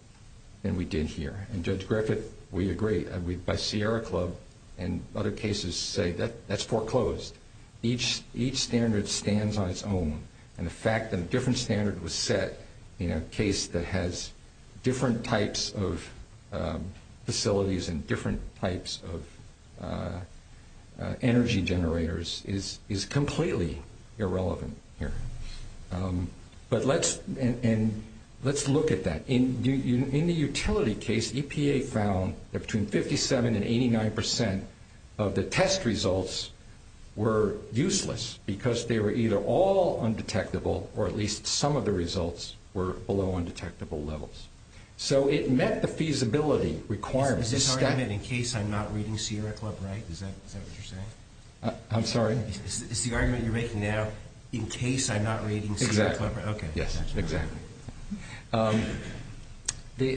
than we did here, and Judge Griffith, we agree by Sierra Club and other cases say that's foreclosed. Each standard stands on its own, and the fact that a different standard was set in a case that has different types of facilities and different types of energy generators is completely irrelevant here. But let's look at that. In the utility case, EPA found that between 57% and 89% of the test results were useless because they were either all undetectable or at least some of the results were below undetectable levels. So it met the feasibility requirements. Is this argument in case I'm not reading Sierra Club right? Is that what you're saying? I'm sorry? Is the argument you're making now in case I'm not reading Sierra Club right? Yes, exactly.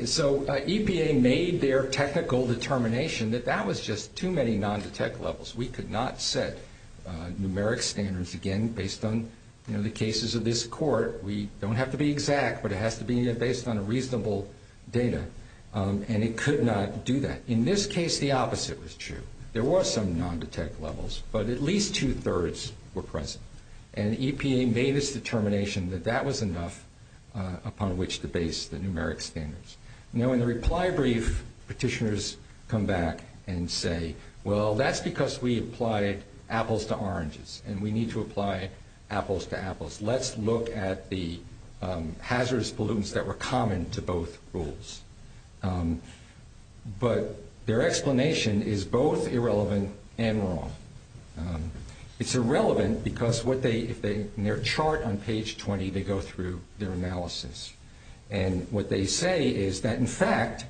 So EPA made their technical determination that that was just too many non-detect levels. We could not set numeric standards, again, based on the cases of this court. We don't have to be exact, but it has to be based on reasonable data, and it could not do that. In this case, the opposite was true. There were some non-detect levels, but at least two-thirds were present, and EPA made its determination that that was enough upon which to base the numeric standards. Now, in the reply brief, petitioners come back and say, well, that's because we applied apples to oranges, and we need to apply apples to apples. Let's look at the hazardous pollutants that were common to both rules. But their explanation is both irrelevant and wrong. It's irrelevant because in their chart on page 20, they go through their analysis. And what they say is that, in fact,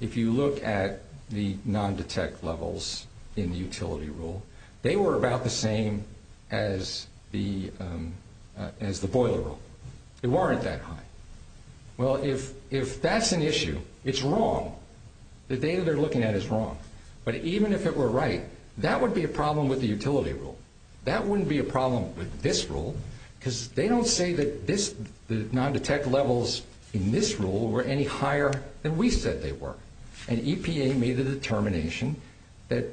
if you look at the non-detect levels in the utility rule, they were about the same as the boiler rule. They weren't that high. Well, if that's an issue, it's wrong. The data they're looking at is wrong. But even if it were right, that would be a problem with the utility rule. That wouldn't be a problem with this rule because they don't say that the non-detect levels in this rule were any higher than we said they were. And EPA made the determination that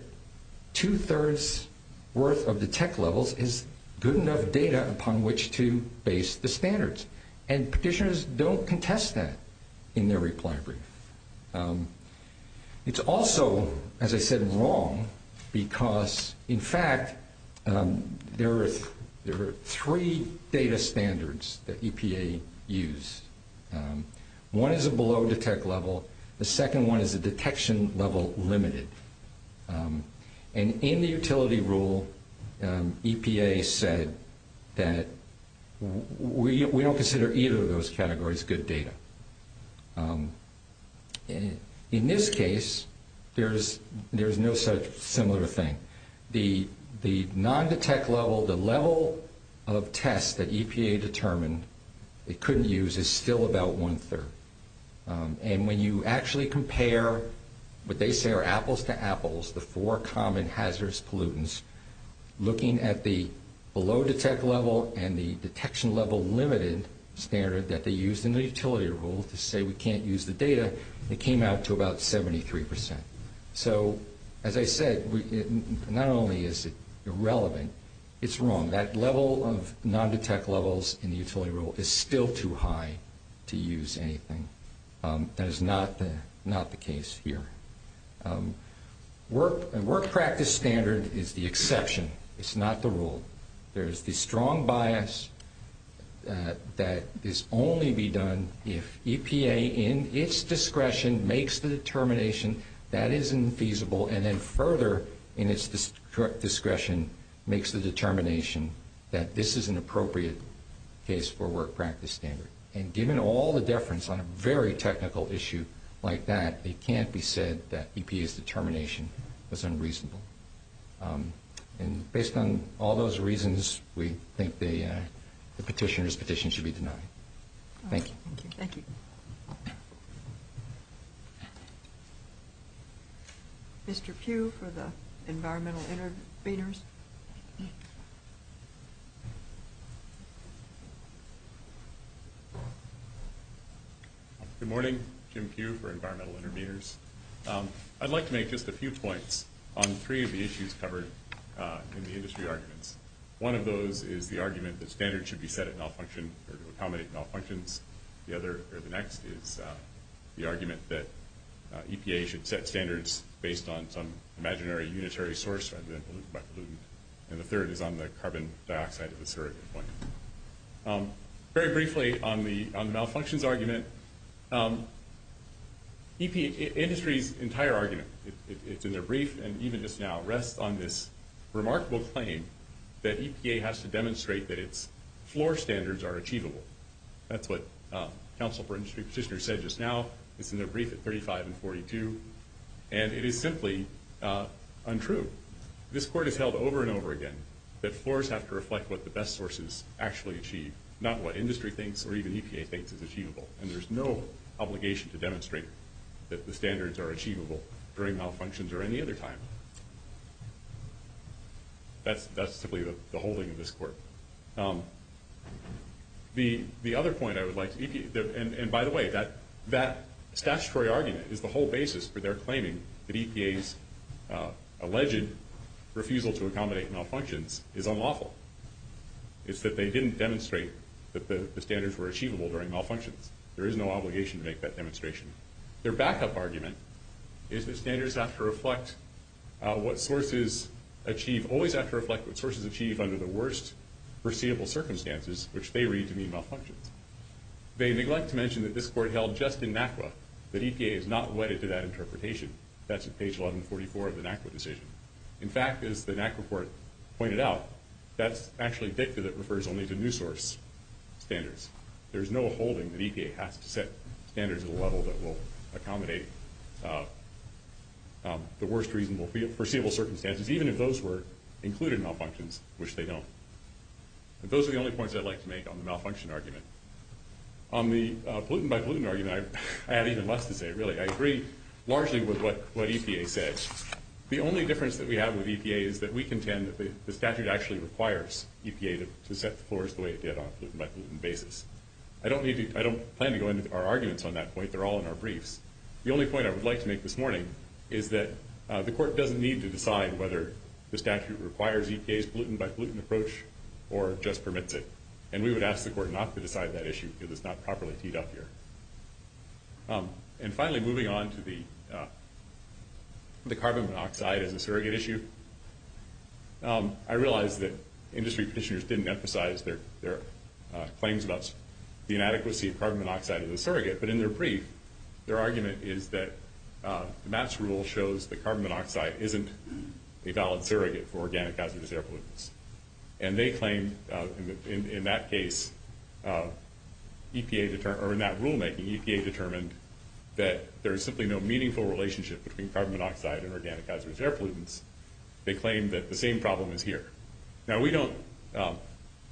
two-thirds worth of the detect levels is good enough data upon which to base the standards. And petitioners don't contest that in their reply brief. It's also, as I said, wrong because, in fact, there are three data standards that EPA used. One is a below detect level. The second one is a detection level limited. And in the utility rule, EPA said that we don't consider either of those categories good data. In this case, there's no such similar thing. The non-detect level, the level of test that EPA determined it couldn't use is still about one-third. And when you actually compare what they say are apples to apples, the four common hazardous pollutants, looking at the below detect level and the detection level limited standard that they used in the utility rule to say we can't use the data, it came out to about 73%. So, as I said, not only is it irrelevant, it's wrong. That level of non-detect levels in the utility rule is still too high to use anything. That is not the case here. Work practice standard is the exception. It's not the rule. There's the strong bias that this only be done if EPA, in its discretion, makes the determination that is infeasible and then further, in its discretion, makes the determination that this is an appropriate case for work practice standard. And given all the deference on a very technical issue like that, it can't be said that EPA's determination was unreasonable. And based on all those reasons, we think the petitioner's petition should be denied. Thank you. Thank you. Thank you. Mr. Pugh for the environmental intervenors. Good morning. Jim Pugh for environmental intervenors. I'd like to make just a few points on three of the issues covered in the industry arguments. One of those is the argument that standards should be set at malfunctions or to accommodate malfunctions. The other, or the next, is the argument that EPA should set standards based on some imaginary unitary source, for example, and the third is on the carbon dioxide of the sewerage system. Very briefly on the malfunctions argument, EPA, industry's entire argument, it's in their brief and even just now, rests on this remarkable claim that EPA has to demonstrate that its floor standards are achievable. That's what counsel for industry petitioner said just now. It's in their brief at 35 and 42, and it is simply untrue. This court has held over and over again that floors have to reflect what the best sources actually achieve, not what industry thinks or even EPA thinks is achievable, and there's no obligation to demonstrate that the standards are achievable during malfunctions or any other time. That's simply the holding of this court. The other point I would like to make, and by the way, that statutory argument is the whole basis for their claiming that EPA's alleged refusal to accommodate malfunctions is unlawful. It's that they didn't demonstrate that the standards were achievable during malfunctions. There is no obligation to make that demonstration. Their backup argument is that standards have to reflect what sources achieve, always have to reflect what sources achieve under the worst perceivable circumstances, which they read to be malfunctions. They neglect to mention that this court held just in MACRA that EPA is not wedded to that interpretation. That's at page 144 of the MACRA decision. In fact, as the MACRA court pointed out, that's actually dicta that refers only to new source standards. There's no holding that EPA has to set standards at a level that will accommodate the worst perceivable circumstances, even if those were included malfunctions, which they don't. And those are the only points I'd like to make on the malfunction argument. On the pollutant by pollutant argument, I have even less to say, really. I agree largely with what EPA says. The only difference that we have with EPA is that we contend that the statute actually requires EPA to set the course the way it did on a pollutant by pollutant basis. I don't plan to go into our arguments on that point. They're all in our briefs. The only point I would like to make this morning is that the court doesn't need to decide whether the statute requires EPA's pollutant by pollutant approach or just permits it, and we would ask the court not to decide that issue because it's not properly teed up here. And finally, moving on to the carbon monoxide as a surrogate issue, I realize that industry officiators didn't emphasize their claims about the inadequacy of carbon monoxide as a surrogate, but in their brief, their argument is that Matt's rule shows that carbon monoxide isn't a valid surrogate for organic hazardous air pollutants. And they claim, in that case, EPA, or in that rulemaking, EPA determined that there is simply no meaningful relationship between carbon monoxide and organic hazardous air pollutants. They claim that the same problem is here. Now, we don't,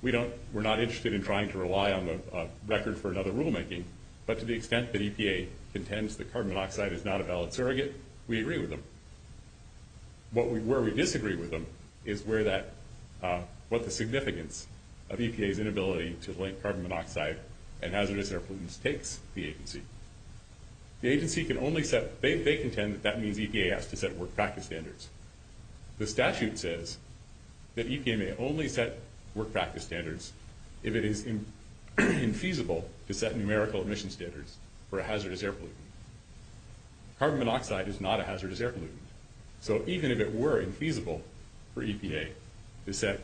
we're not interested in trying to rely on the record for another rulemaking, but to the extent that EPA contends that carbon monoxide is not a valid surrogate, we agree with them. Where we disagree with them is where that, what the significance of EPA's inability to link carbon monoxide and hazardous air pollutants takes the agency. The agency can only set, they contend that means EPA has to set work practice standards. The statute says that EPA may only set work practice standards if it is infeasible to set numerical emission standards for a hazardous air pollutant. Carbon monoxide is not a hazardous air pollutant. So even if it were infeasible for EPA to set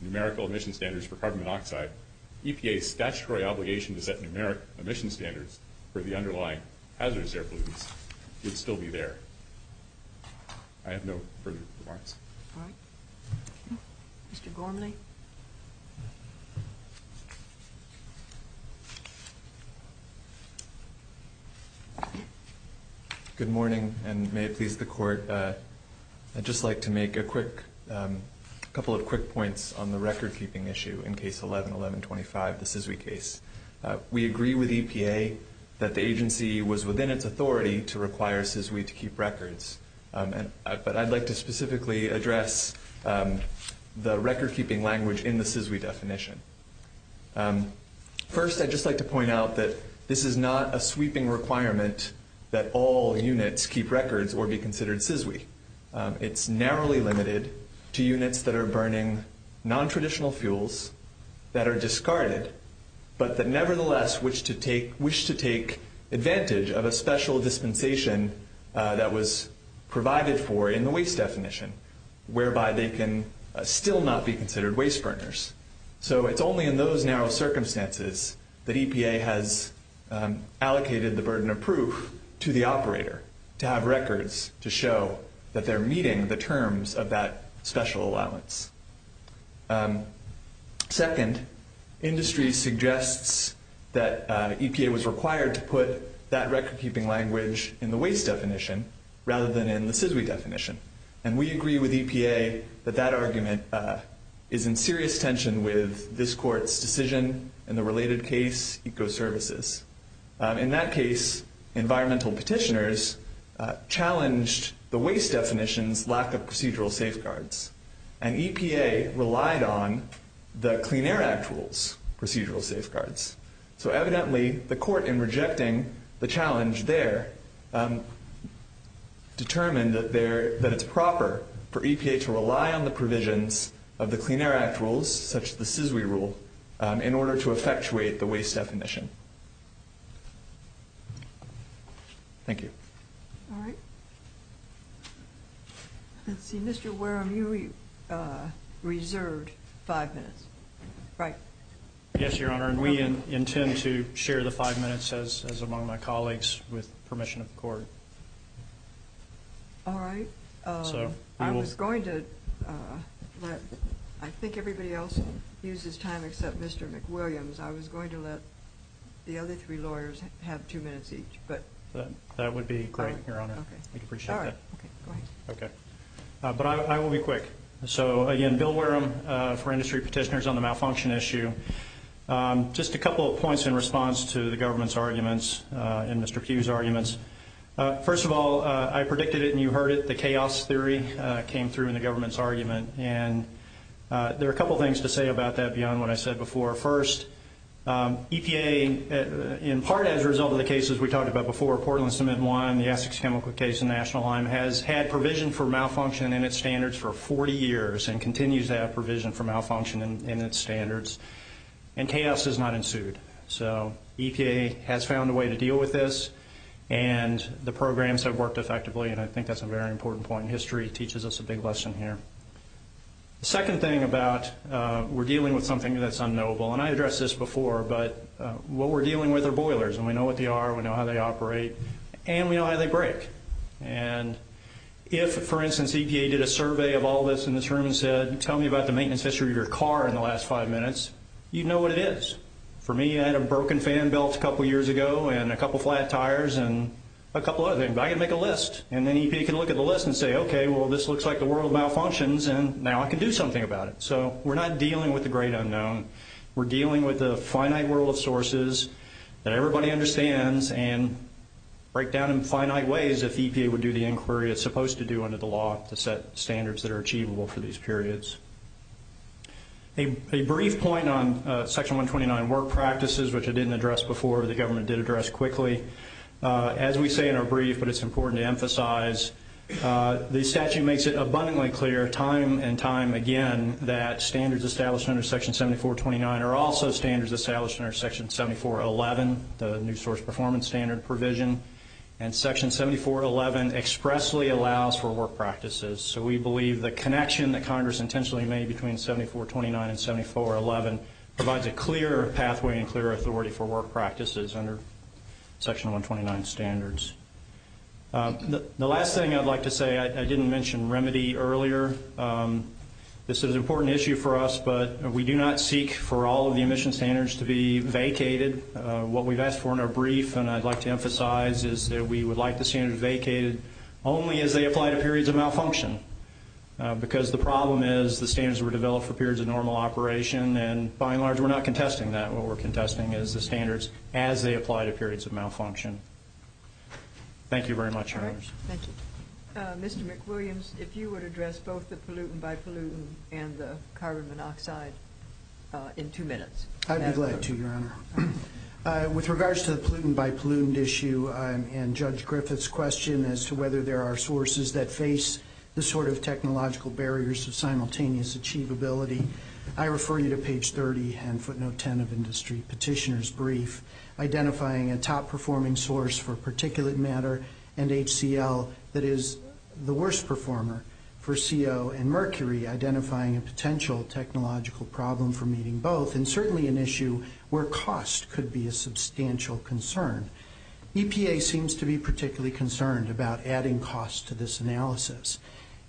numerical emission standards for carbon monoxide, EPA's statutory obligation to set numeric emission standards for the underlying hazardous air pollutants would still be there. I have no further remarks. All right. Mr. Gormley? Good morning, and may it please the Court. I'd just like to make a quick, a couple of quick points on the record-keeping issue in Case 11-1125, the SESWI case. We agree with EPA that the agency was within its authority to require SESWI to keep records. But I'd like to specifically address the record-keeping language in the SESWI definition. First, I'd just like to point out that this is not a sweeping requirement that all units keep records or be considered SESWI. It's narrowly limited to units that are burning nontraditional fuels that are discarded, but that nevertheless wish to take advantage of a special dispensation that was provided for in the waste definition, whereby they can still not be considered waste burners. So it's only in those narrow circumstances that EPA has allocated the burden of proof to the operator to have records to show that they're meeting the terms of that special allowance. Second, industry suggests that EPA was required to put that record-keeping language in the waste definition rather than in the SESWI definition. And we agree with EPA that that argument is in serious tension with this Court's decision in the related case, Ecoservices. In that case, environmental petitioners challenged the waste definition's lack of procedural safeguards, and EPA relied on the Clean Air Act rule's procedural safeguards. So evidently, the Court, in rejecting the challenge there, determined that it's proper for EPA to rely on the provisions of the Clean Air Act rules, such as the SESWI rule, in order to effectuate the waste definition. Thank you. All right. Let's see, Mr. Wareham, you reserved five minutes, right? Yes, Your Honor. And we intend to share the five minutes, as among my colleagues, with permission of the Court. All right. I was going to let, I think everybody else used his time except Mr. McWilliams. I was going to let the other three lawyers have two minutes each. But that would be great, Your Honor. Okay. All right. Okay. But I will be quick. So, again, Bill Wareham for industry petitioners on the malfunction issue. Just a couple of points in response to the government's arguments and Mr. Hughes' arguments. First of all, I predicted it and you heard it. The chaos theory came through in the government's argument. And there are a couple of things to say about that beyond what I said before. First, EPA, in part as a result of the cases we talked about before, Portland Cement and Wine, the Essex chemical case in the national line, has had provision for malfunction in its standards for 40 years and continues to have provision for malfunction in its standards. And chaos has not ensued. So, EPA has found a way to deal with this. And the programs have worked effectively. And I think that's a very important point in history. It teaches us a big lesson here. The second thing about we're dealing with something that's unknowable. And I addressed this before. But what we're dealing with are boilers. And we know what they are. We know how they operate. And we know how they break. And if, for instance, EPA did a survey of all this in this room and said, tell me about the maintenance history of your car in the last five minutes, you'd know what it is. For me, I had a broken fan belt a couple years ago and a couple flat tires and a couple other things. I can make a list. And then EPA can look at the list and say, okay, well, this looks like the world of malfunctions. And now I can do something about it. So, we're not dealing with the great unknown. We're dealing with the finite world of sources that everybody understands and break down in finite ways if EPA would do the inquiry it's supposed to do under the law to set standards that are achievable for these periods. A brief point on Section 129 work practices, which I didn't address before. The government did address quickly. As we say in our brief, but it's important to emphasize, the statute makes it abundantly clear time and time again that standards established under Section 7429 are also standards established under Section 7411, the new source performance standard provision. And Section 7411 expressly allows for work practices. So, we believe the connection that Congress intentionally made between 7429 and 7411 provides a clear pathway and clear authority for work practices under Section 129 standards. The last thing I'd like to say, I didn't mention remedy earlier. This is an important issue for us, but we do not seek for all of the emission standards to be vacated. What we've asked for in our brief, and I'd like to emphasize, is that we would like the standards vacated only as they apply to periods of malfunction. Because the problem is the standards were developed for periods of normal operation, and by and large we're not contesting that. So, we're contesting the standards as they apply to periods of malfunction. Thank you very much. Mr. McWilliams, if you would address both the pollutant-by-pollutant and the carbon monoxide in two minutes. I'd be glad to, Your Honor. With regards to the pollutant-by-pollutant issue and Judge Griffith's question as to whether there are sources that face this sort of technological barriers to simultaneous achievability, I refer you to page 30 and footnote 10 of the industry petitioner's brief, identifying a top-performing source for particulate matter and HCL that is the worst performer for CO and mercury, identifying a potential technological problem for meeting both, and certainly an issue where cost could be a substantial concern. EPA seems to be particularly concerned about adding cost to this analysis.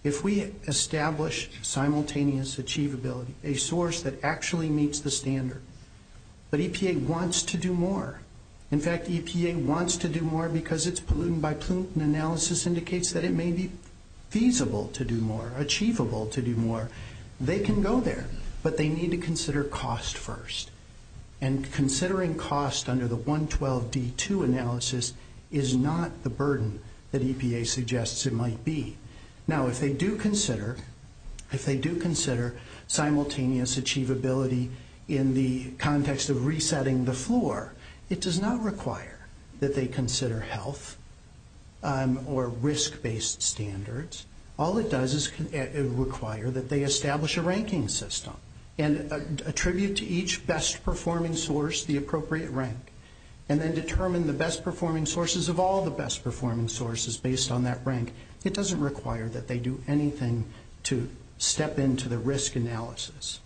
If we establish simultaneous achievability, a source that actually meets the standard, but EPA wants to do more, in fact, EPA wants to do more because its pollutant-by-pollutant analysis indicates that it may be feasible to do more, achievable to do more. They can go there, but they need to consider cost first, and considering cost under the 112D2 analysis is not the burden that EPA suggests it might be. Now, if they do consider simultaneous achievability in the context of resetting the floor, it does not require that they consider health or risk-based standards. All it does is require that they establish a ranking system and attribute to each best-performing source the appropriate rank and then determine the best-performing sources of all the best-performing sources based on that rank. It doesn't require that they do anything to step into the risk analysis.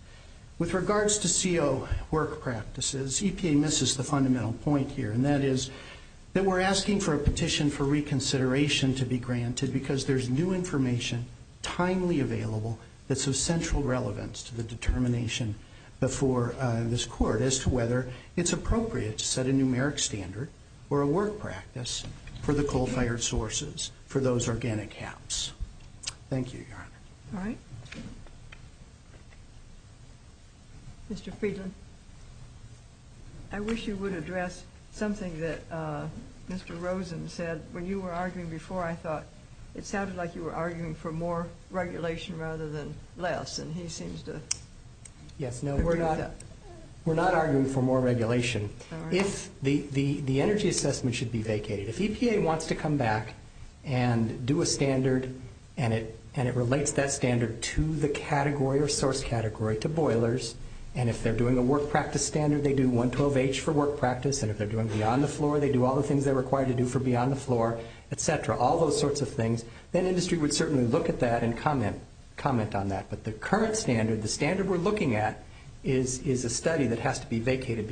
With regards to CO work practices, EPA misses the fundamental point here, and that is that we're asking for a petition for reconsideration to be granted because there's new information timely available that's of central relevance to the determination before this Court as to whether it's appropriate to set a numeric standard or a work practice for the coal-fired sources for those organic haps. Thank you, Your Honor. All right. Mr. Friedland, I wish you would address something that Mr. Rosen said. When you were arguing before, I thought it sounded like you were arguing for more regulation rather than less, and he seems to have picked it up. We're not arguing for more regulation. The energy assessment should be vacated. If EPA wants to come back and do a standard and it relates that standard to the category or source category, to boilers, and if they're doing a work practice standard, they do 112H for work practice, and if they're doing beyond the floor, they do all the things they're required to do for beyond the floor, et cetera, all those sorts of things, then industry would certainly look at that and comment on that. But the current standard, the standard we're looking at, is a study that has to be vacated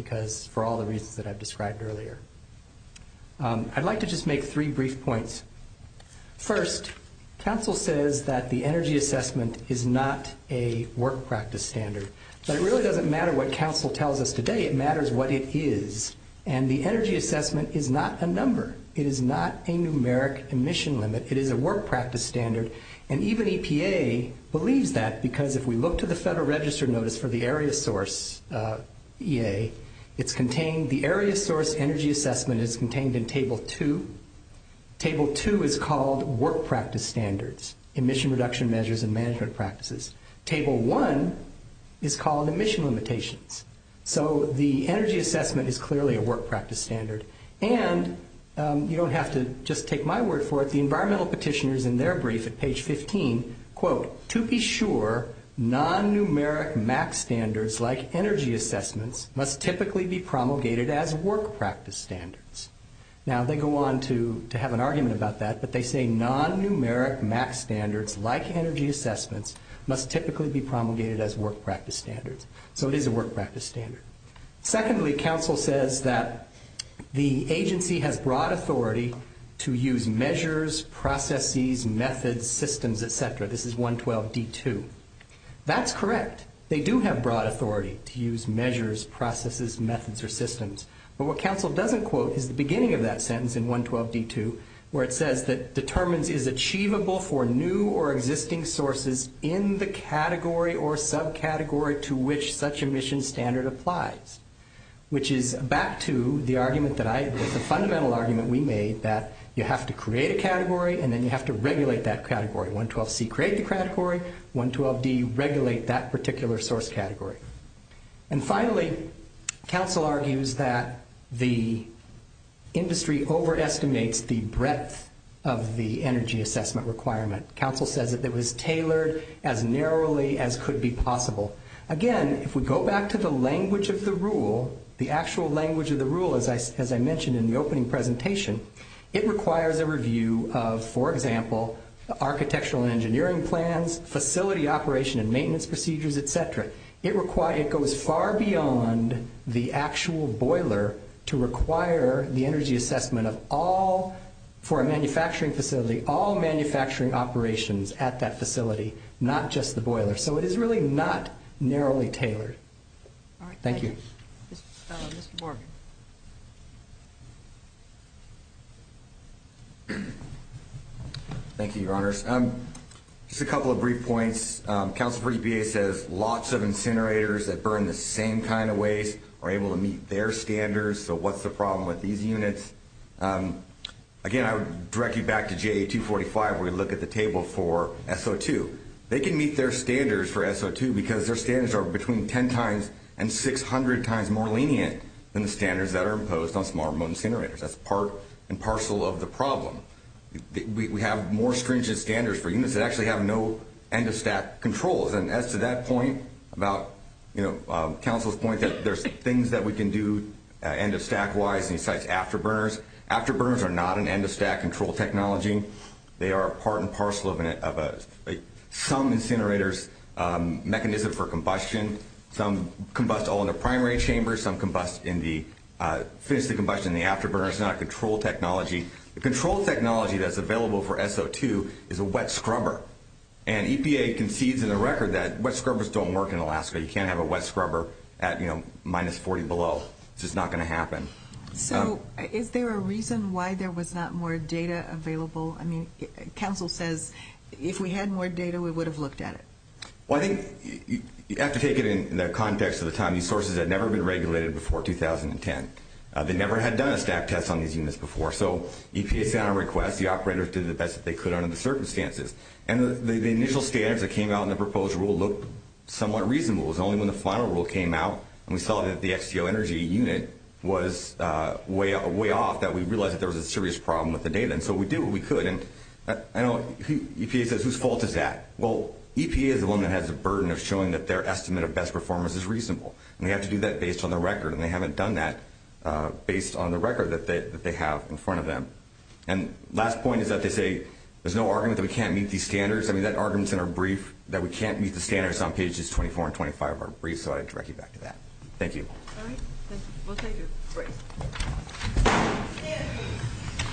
for all the reasons that I've described earlier. I'd like to just make three brief points. First, counsel says that the energy assessment is not a work practice standard. So it really doesn't matter what counsel tells us today. It matters what it is, and the energy assessment is not a number. It is not a numeric emission limit. It is a work practice standard, and even EPA believes that because if we look to the Federal Register notice for the area source, EA, it's contained the area source energy assessment is contained in Table 2. Table 2 is called work practice standards, emission reduction measures and management practices. Table 1 is called emission limitations. So the energy assessment is clearly a work practice standard, and you don't have to just take my word for it. The environmental petitioner is in their brief at page 15, quote, to be sure non-numeric MAC standards like energy assessments must typically be promulgated as work practice standards. Now they go on to have an argument about that, but they say non-numeric MAC standards like energy assessments must typically be promulgated as work practice standards. So it is a work practice standard. Secondly, counsel says that the agency has broad authority to use measures, processes, methods, systems, et cetera. This is 112D2. That's correct. They do have broad authority to use measures, processes, methods, or systems, but what counsel doesn't quote is the beginning of that sentence in 112D2 where it says that determines is achievable for new or existing sources in the category or subcategory to which such emission standard applies, which is back to the argument that I, the fundamental argument we made that you have to create a category and then you have to regulate that category. 112C create the category, 112D regulate that particular source category. And finally, counsel argues that the industry overestimates the breadth of the energy assessment requirement. Counsel says that it was tailored as narrowly as could be possible. Again, if we go back to the language of the rule, the actual language of the rule, as I mentioned in the opening presentation, it requires a review of, for example, architectural and engineering plans, facility operation and maintenance procedures, et cetera. It goes far beyond the actual boiler to require the energy assessment of all or a manufacturing facility, all manufacturing operations at that facility, not just the boiler. So it is really not narrowly tailored. Thank you. Thank you, Your Honors. Just a couple of brief points. Counsel for EPA says lots of incinerators that burn the same kind of waste are able to meet their standards, so what's the problem with these units? Again, I would direct you back to GA 245 where we look at the table for SO2. They can meet their standards for SO2 because their standards are between 10 times and 600 times more lenient than the standards that are imposed on smart remote incinerators. That's part and parcel of the problem. We have more stringent standards for units that actually have no end of stack controls. And as to that point about, you know, counsel's point that there's things that we can do end Afterburners are not an end of stack control technology. They are part and parcel of some incinerators mechanism for combustion. Some combust all in the primary chambers. Some combust in the afterburners. It's not a control technology. The control technology that's available for SO2 is a wet scrubber. And EPA concedes in the record that wet scrubbers don't work in Alaska. You can't have a wet scrubber at, you know, minus 40 below. It's just not going to happen. So is there a reason why there was not more data available? I mean, counsel says if we had more data, we would have looked at it. Well, I think you have to take it in the context of the time. These sources had never been regulated before 2010. They never had done a stack test on these units before. So EPA found a request. The operators did the best that they could under the circumstances. And the initial standards that came out in the proposed rule looked somewhat reasonable. It was only when the final rule came out and we saw that the XGO energy unit was way off that we realized that there was a serious problem with the data. And so we did what we could. And I know EPA says whose fault is that? Well, EPA is the one that has a burden of showing that their estimate of best performance is reasonable. And they have to do that based on the record. And they haven't done that based on the record that they have in front of them. And last point is that they say there's no argument that we can't meet these standards. I mean, that argument is in our brief that we can't meet the standards on pages 24 and 25 of our brief. So I direct you back to that. Thank you. All right. We'll take your break.